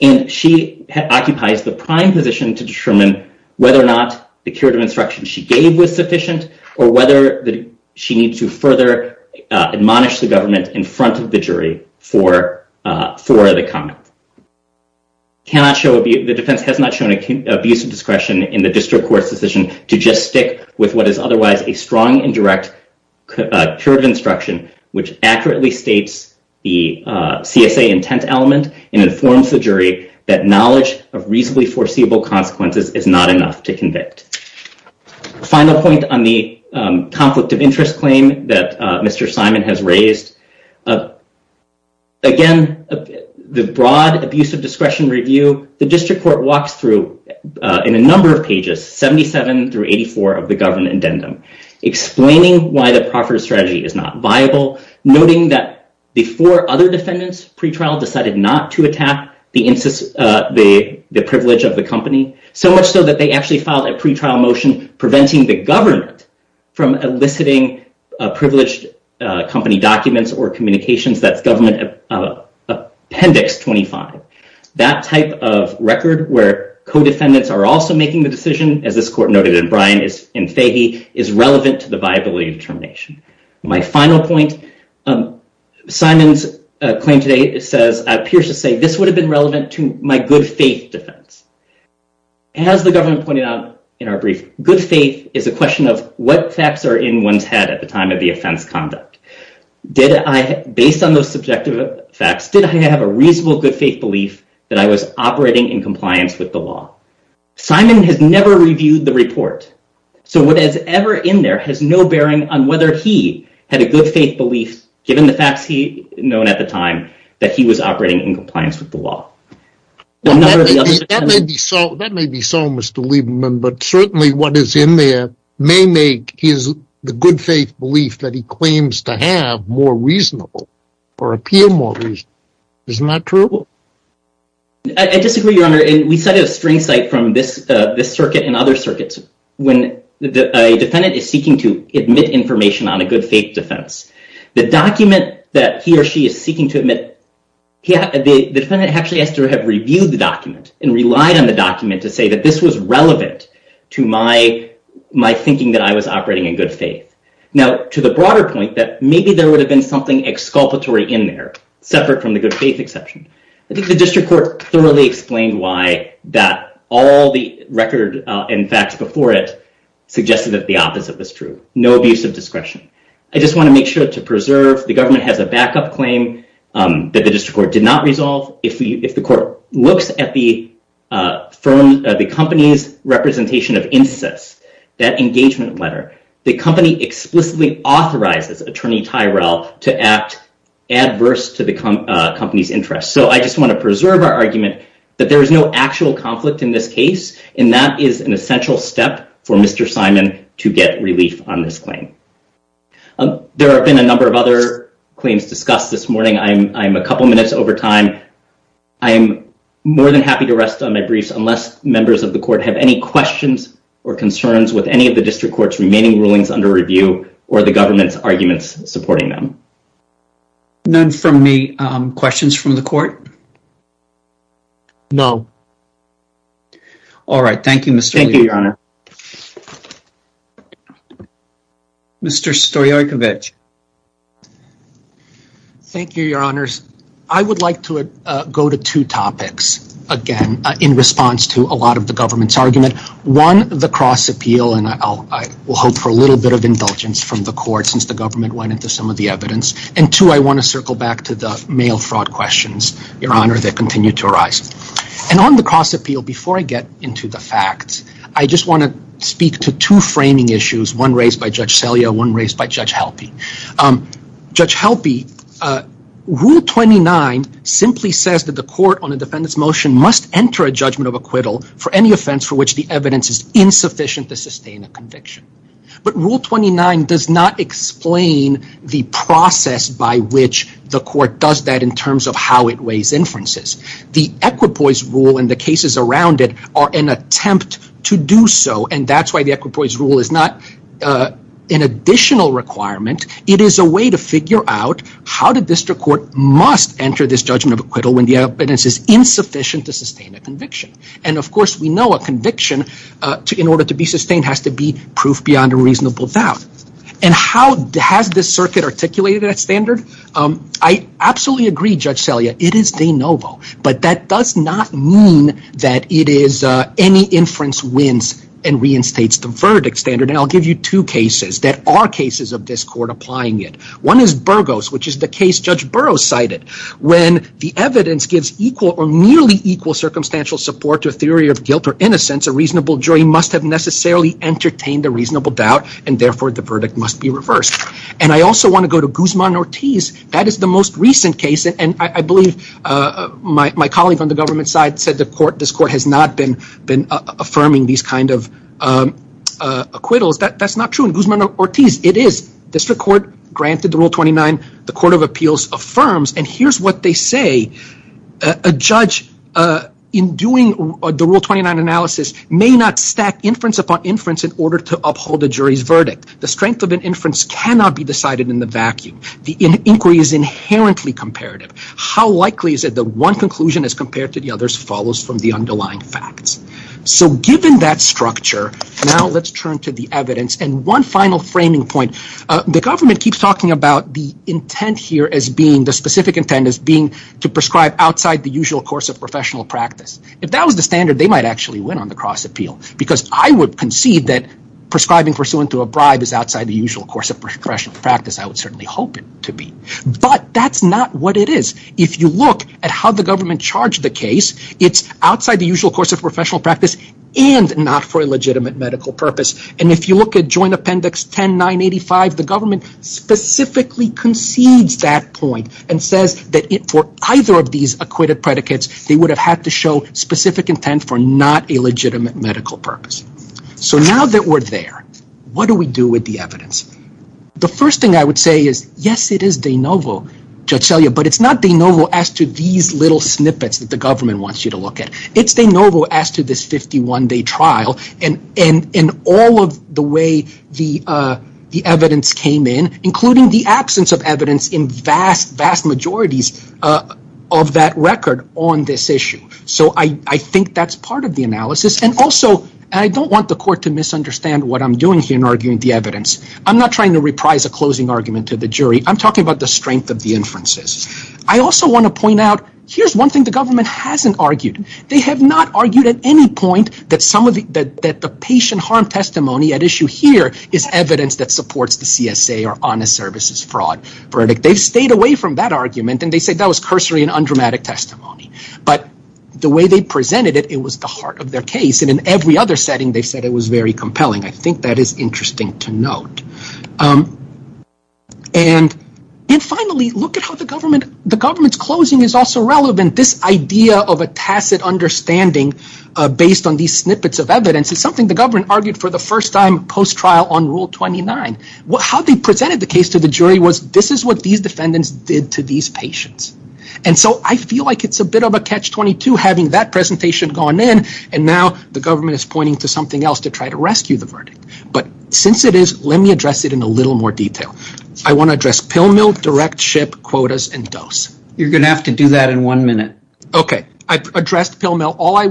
and she occupies the prime position to determine whether or not the period of instruction she gave was sufficient or whether she needs to further admonish the government in front of the jury for the comment. The defense has not shown abuse of discretion in the District Court's decision to just stick with what is otherwise a strong and direct period of instruction, which accurately states the CSA intent element and informs the jury that knowledge of reasonably foreseeable consequences is not enough to convict. Final point on the conflict of interest claim that Mr. Simon has raised. Again, the broad abuse of discretion review, the District Court walks through in a number of pages, 77 through 84 of the government addendum, explaining why the proffered strategy is not viable, noting that before other defendants' pretrial decided not to attack the privilege of the company, so much so that they actually filed a pretrial motion preventing the government from eliciting privileged company documents or communications that government appendix 25. That type of record where co-defendants are also making the decision, as this court noted in Bryan and Fahey, is relevant to the viability of termination. My final point, Simon's claim today, it appears to say this would have been relevant to my good faith defense. As the government pointed out in our brief, good faith is a question of what facts are in one's head at the time of the offense conduct. Based on those subjective facts, did I have a reasonable good faith belief that I was operating in compliance with the law? Simon has never reviewed the report, so whatever is in there has no bearing on whether he had a good faith belief, given the facts he had known at the time, that he was operating in compliance with the law. That may be so, Mr. Lieberman, but certainly what is in there may make the good faith belief that he claims to have more reasonable or appear more reasonable. Isn't that true? I disagree, Your Honor, and we cited a strange sight from this circuit and other circuits. When a defendant is seeking to admit information on a good faith defense, the document that he or she is seeking to admit, the defendant actually has to have reviewed the document and relied on the document to say that this was relevant to my thinking that I was operating in good faith. Now, to the broader point, maybe there would have been something exculpatory in there, separate from the good faith exception. I think the district court thoroughly explained why all the record and facts before it suggested that the opposite was true. No abuse of discretion. I just want to make sure to preserve the government has a backup claim that the district court did not resolve. If the court looks at the company's representation of incest, that engagement letter, the company explicitly authorizes attorney Tyrell to act adverse to the company's interest. So I just want to preserve our argument that there is no actual conflict in this case and that is an essential step for Mr. Simon to get relief on this claim. There have been a number of other claims discussed this morning. I'm a couple minutes over time. I'm more than happy to rest on my griefs unless members of the court have any questions or concerns with any of the district court's remaining rulings under review or the government's arguments supporting them. None from me. Questions from the court? All right. Thank you, Mr. Stoyarchevich. Thank you, Your Honor. Mr. Stoyarchevich. Thank you, Your Honors. I would like to go to two topics again in response to a lot of the government's argument. One, the cross appeal, and I will hope for a little bit of indulgence from the court since the government went into some of the evidence. And two, I want to circle back to the mail fraud questions, Your Honor, that continue to arise. And on the cross appeal, before I get into the facts, I just want to speak to two framing issues, one raised by Judge Selya, one raised by Judge Helpe. Judge Helpe, Rule 29 simply says that the court on a defendant's motion must enter a judgment of acquittal for any offense for which the evidence is insufficient to sustain a conviction. But Rule 29 does not explain the process by which the court does that in terms of how it weighs inferences. The equipoise rule and the cases around it are an attempt to do so, and that's why the equipoise rule is not an additional requirement. It is a way to figure out how the district court must enter this judgment of acquittal when the evidence is insufficient to sustain a conviction. And, of course, we know a conviction, in order to be sustained, has to be proof beyond a reasonable doubt. And how has this circuit articulated that standard? I absolutely agree, Judge Selya, it is de novo. But that does not mean that it is any inference wins and reinstates the verdict standard. And I'll give you two cases that are cases of this court applying it. One is Burgos, which is the case Judge Burrow cited, when the evidence gives equal or nearly equal circumstantial support to a theory of guilt or innocence, a reasonable jury must have necessarily entertained a reasonable doubt, and therefore the verdict must be reversed. And I also want to go to Guzman-Ortiz. That is the most recent case, and I believe my colleague on the government side said this court has not been affirming these kind of acquittals. That's not true in Guzman-Ortiz. It is. District court granted the Rule 29. The Court of Appeals affirms, and here's what they say. A judge, in doing the Rule 29 analysis, may not stack inference upon inference in order to uphold the jury's verdict. The strength of an inference cannot be decided in the vacuum. The inquiry is inherently comparative. How likely is it that one conclusion, as compared to the others, follows from the underlying facts? So given that structure, now let's turn to the evidence. And one final framing point. The government keeps talking about the intent here being to prescribe outside the usual course of professional practice. If that was the standard, they might actually win on the cross-appeal, because I would concede that prescribing for so-and-so a bribe is outside the usual course of professional practice. I would certainly hope it to be. But that's not what it is. If you look at how the government charged the case, it's outside the usual course of professional practice and not for a legitimate medical purpose. And if you look at Joint Appendix 10-985, the government specifically concedes that point and says that for either of these acquitted predicates, they would have had to show specific intent for not a legitimate medical purpose. So now that we're there, what do we do with the evidence? The first thing I would say is, yes, it is de novo, but it's not de novo as to these little snippets that the government wants you to look at. It's de novo as to this 51-day trial and all of the way the evidence came in, including the absence of evidence in vast, vast majorities of that record on this issue. So I think that's part of the analysis. And also, I don't want the court to misunderstand what I'm doing here in arguing the evidence. I'm not trying to reprise a closing argument to the jury. I'm talking about the strength of the inferences. I also want to point out, here's one thing the government hasn't argued. They have not argued at any point that the patient harm testimony at issue here is evidence that supports the CSA or honest services fraud verdict. They've stayed away from that argument, and they said that was cursory and undramatic testimony. But the way they presented it, it was the heart of their case. And in every other setting, they said it was very compelling. I think that is interesting to note. And finally, look at how the government's closing is also relevant. This idea of a tacit understanding based on these snippets of evidence is something the government argued for the first time post-trial on Rule 29. How they presented the case to the jury was this is what these defendants did to these patients. And so I feel like it's a bit of a catch-22 having that presentation gone in, and now the government is pointing to something else to try to rescue the verdict. But since it is, let me address it in a little more detail. I want to address pill mill, direct ship, quotas, and dose. You're going to have to do that in one minute. Okay. I've addressed pill mill. All I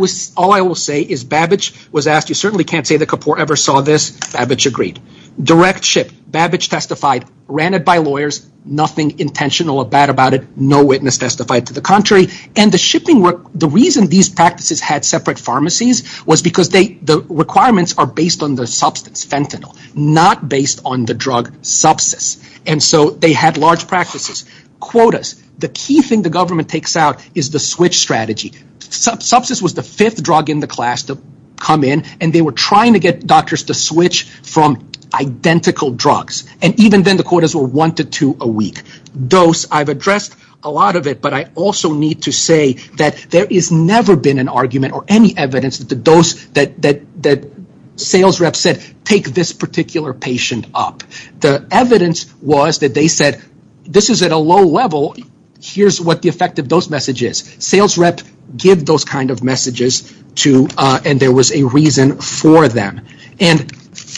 will say is Babbage was asked, you certainly can't say that Kapoor ever saw this. Babbage agreed. Direct ship. Babbage testified. Ran it by lawyers. Nothing intentional or bad about it. No witness testified to the contrary. And the shipping work, the reason these practices had separate pharmacies was because the requirements are based on the substance fentanyl, not based on the drug sepsis. And so they had large practices. Quotas. The key thing the government takes out is the switch strategy. Sepsis was the fifth drug in the class to come in, and they were trying to get doctors to switch from identical drugs. And even then the quotas were one to two a week. Dose. I've addressed a lot of it, but I also need to say that there is never been an argument or any evidence that the dose that sales reps said, take this particular patient up. The evidence was that they said, this is at a low level. Here's what the effect of those messages. Sales reps give those kind of messages, and there was a reason for them. And,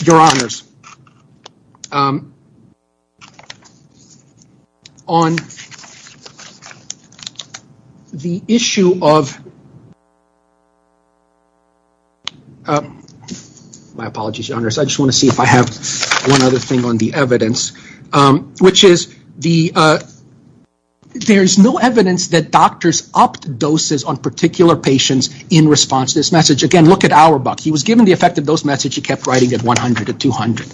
your honors, on the issue of, my apologies, your honors, I just want to see if I have one other thing on the evidence, which is there is no evidence that doctors upped doses on particular patients in response to this message. Again, look at Auerbach. He was given the effect of those messages. He kept writing at 100 to 200.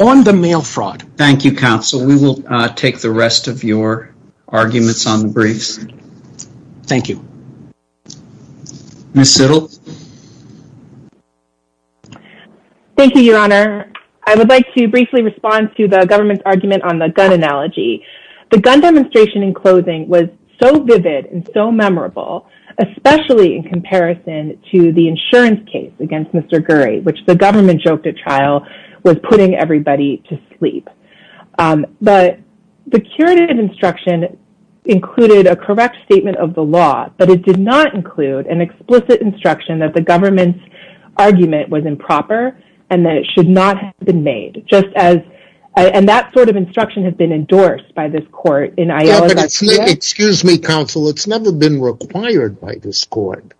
On the mail fraud. Thank you, counsel. We will take the rest of your arguments on the briefs. Thank you. Ms. Siddall. Thank you, your honor. I would like to briefly respond to the government's argument on the gun analogy. The gun demonstration in closing was so vivid and so memorable, especially in comparison to the insurance case against Mr. Gurry, which the government joked at trial was putting everybody to sleep. But the curative instruction included a correct statement of the law, but it did not include an explicit instruction that the government's argument was improper and that it should not have been made. And that sort of instruction has been endorsed by this court. Excuse me, counsel. It's never been required by this court.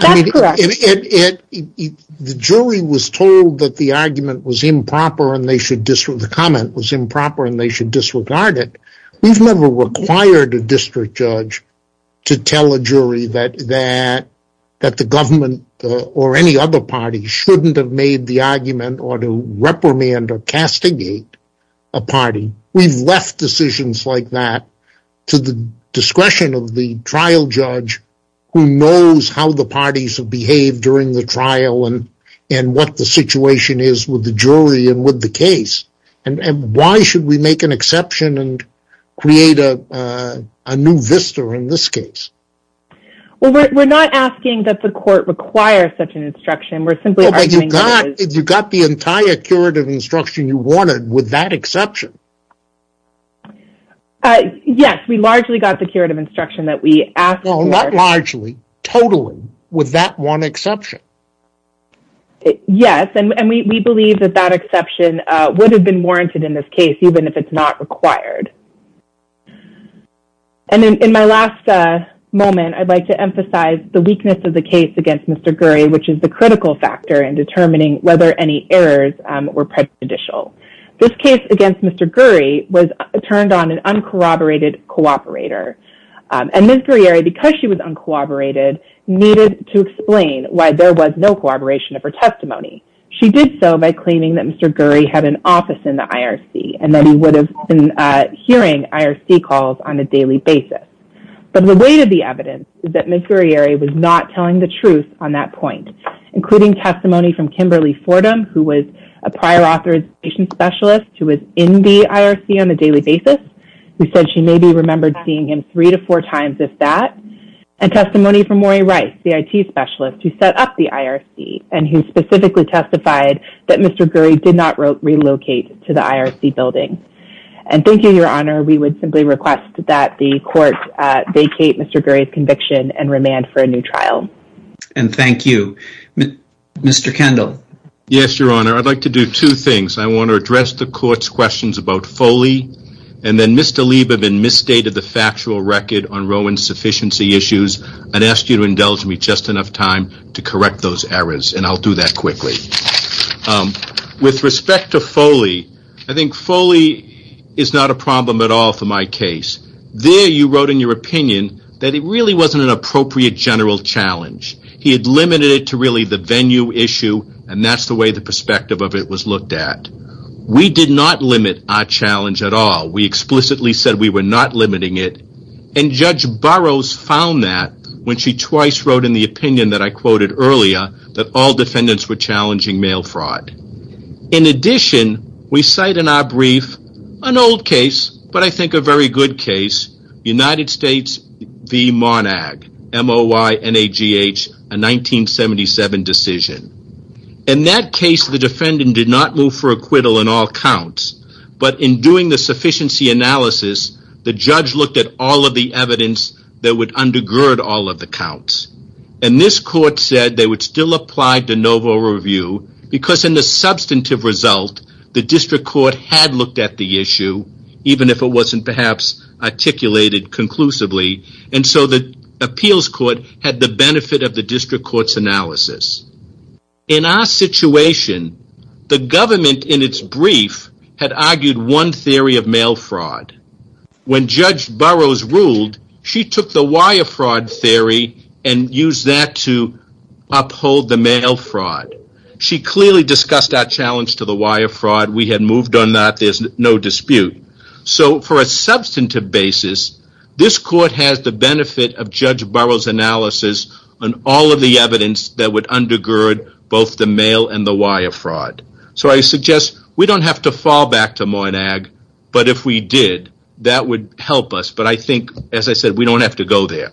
That's correct. The jury was told that the argument was improper and they should, the comment was improper and they should disregard it. We've never required a district judge to tell a jury that the government or any other party shouldn't have made the argument or to reprimand or castigate a party. We left decisions like that to the discretion of the trial judge who knows how the parties have behaved during the trial and what the situation is with the jury and with the case. And why should we make an exception and create a new vista in this case? We're not asking that the court require such an instruction. You got the entire curative instruction you wanted with that exception. Yes. We largely got the curative instruction that we asked for. Not largely, totally, with that one exception. Yes. And we believe that that exception would have been warranted in this case even if it's not required. And in my last moment, I'd like to emphasize the weakness of the case against Mr. Gurry, which is the critical factor in determining whether any errors were prejudicial. This case against Mr. Gurry was turned on an uncorroborated cooperator. And Ms. Gurry, because she was uncorroborated, needed to explain why there was no corroboration of her testimony. She did so by claiming that Mr. Gurry had an office in the IRC and that he would have been hearing IRC calls on a daily basis. But the weight of the evidence is that Ms. Gurry was not telling the truth on that point, including testimony from Kimberly Fordham, who was a prior authorization specialist who was in the IRC on a daily basis, who said she maybe remembered seeing him three to four times at that, and testimony from Maury Rice, the IT specialist, who set up the IRC and who specifically testified that Mr. Gurry did not relocate to the IRC building. And thank you, Your Honor. We would simply request that the court vacate Mr. Gurry's conviction and remand for a new trial. And thank you. Mr. Kendall. Yes, Your Honor. I'd like to do two things. I want to address the court's questions about Foley, and then Mr. Lieberman misstated the factual record on Roe insufficiency issues and asked you to indulge me just enough time to correct those errors, and I'll do that quickly. With respect to Foley, I think Foley is not a problem at all for my case. There you wrote in your opinion that it really wasn't an appropriate general challenge. He had limited it to really the venue issue, and that's the way the perspective of it was looked at. We did not limit our challenge at all. We explicitly said we were not limiting it, and Judge Burroughs found that when she twice wrote in the opinion that I In addition, we cite in our brief an old case, but I think a very good case, United States v. Monag, M-O-Y-N-A-G-H, a 1977 decision. In that case, the defendant did not move for acquittal in all counts, but in doing the sufficiency analysis, the judge looked at all of the evidence that would undergird all of the counts. And this court said they would still apply de novo review because in the substantive result, the district court had looked at the issue, even if it wasn't perhaps articulated conclusively. And so the appeals court had the benefit of the district court's analysis. In our situation, the government in its brief had argued one theory of mail fraud. When Judge Burroughs ruled, she took the wire fraud theory and used that to uphold the mail fraud. She clearly discussed our challenge to the wire fraud. We had moved on that. There's no dispute. So for a substantive basis, this court has the benefit of Judge Burroughs' analysis on all of the evidence that would undergird both the mail and the wire fraud. So I suggest we don't have to fall back to Monag, but if we did, that would help us. But I think, as I said, we don't have to go there.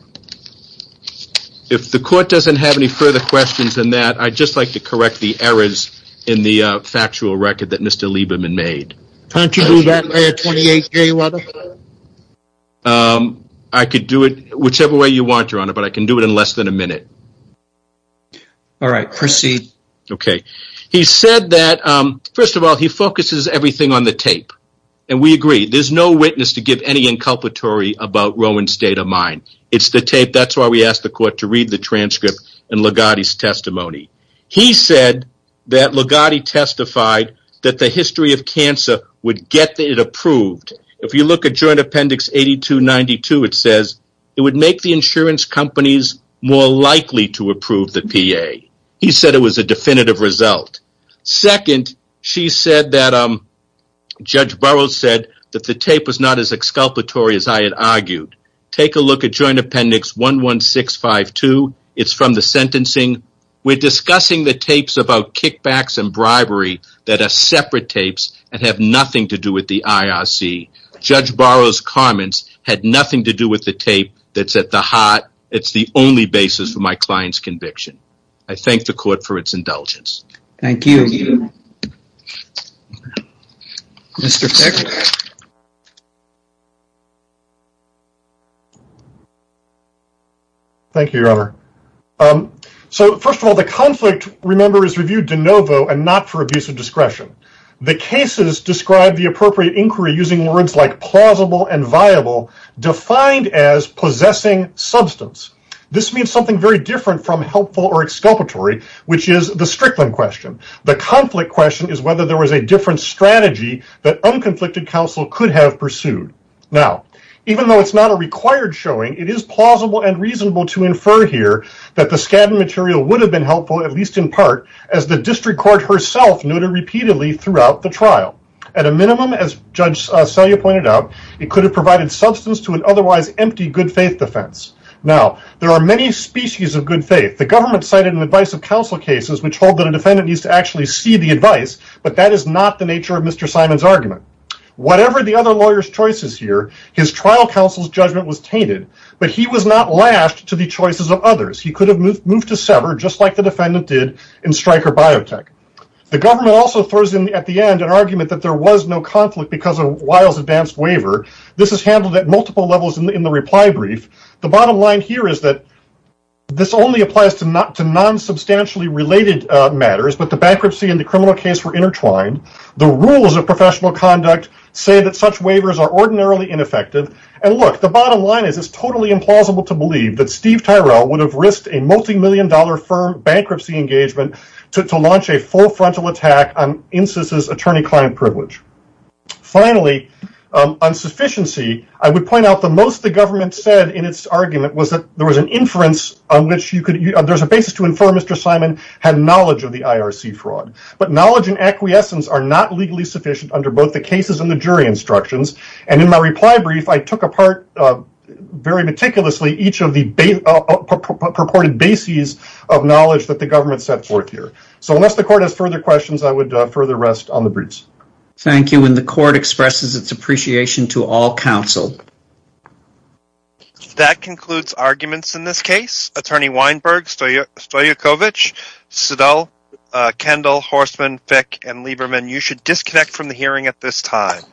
If the court doesn't have any further questions than that, I'd just like to correct the errors in the factual record that Mr. Lieberman made. I could do it whichever way you want your honor, but I can do it in less than a minute. All right, proceed. Okay. He said that, first of all, he focuses everything on the tape and we agree. There's no witness to give any inculpatory about Rowan's state of mind. It's the tape. That's why we asked the court to read the transcript and Ligotti's testimony. He said that Ligotti testified that the history of cancer would get it approved. If you look at Joint Appendix 8292, it says it would make the insurance companies more likely to approve the PA. He said it was a definitive result. Second, she said that Judge Burroughs said that the tape was not as exculpatory as I had argued. Take a look at Joint Appendix 11652. It's from the sentencing. We're discussing the tapes about kickbacks and bribery that are separate tapes and have nothing to do with the IRC. Judge Burroughs' comments had nothing to do with the tape that's at the heart. It's the only basis for my client's conviction. I thank the court for its indulgence. Thank you. Thank you, Your Honor. So first of all, the conflict remember is reviewed de novo and not for abuse of discretion. The cases described the appropriate inquiry using words like plausible and viable defined as possessing substance. This means something very different from helpful or exculpatory, which is the Strickland question. The conflict question is whether there was a different strategy that unconflicted counsel could have pursued. Now, even though it's not a required showing, it is plausible and reasonable to infer here that the scabbing material would have been helpful, at least in part, as the district court herself noted repeatedly throughout the trial. At a minimum, as Judge Selye pointed out, it could have provided substance to an otherwise empty good faith defense. Now there are many species of good faith. The government cited an advice of counsel cases, which hold that a defendant needs to actually see the advice, but that is not the nature of Mr. Simon's argument. Whatever the other lawyers choices here, his trial counsel's judgment was tainted, but he was not last to be choices of others. He could have moved to sever just like the defendant did in Stryker biotech. The government also throws in at the end an argument that there was no conflict because of wild advanced waiver. This is handled at multiple levels in the, in the reply brief. The bottom line here is that this only applies to not to non substantially related matters, but the bankruptcy and the criminal case were intertwined. The rules of professional conduct say that such waivers are ordinarily ineffective. And look, the bottom line is it's totally implausible to believe that Steve Tyrell would have risked a multimillion dollar firm bankruptcy engagement to, to launch a full frontal attack on instances, attorney client privilege. Finally, on sufficiency, I would point out the most the government said in its argument was that there was an inference on which you could, there's a basis to inform Mr. Simon had knowledge of the IRC fraud, but knowledge and acquiescence are not legally sufficient under both the cases and the jury instructions. And in my reply brief, I took apart very meticulously. Each of the base purported bases of knowledge that the government sets work here. So unless the court has further questions, I would further rest on the bridge. Thank you. And the court expresses its appreciation to all counsel. That concludes arguments in this case, attorney Weinberg, so you're still your coverage. So though, uh, Kendall Horstman, Beck and Lieberman, you should disconnect from the hearing at this time.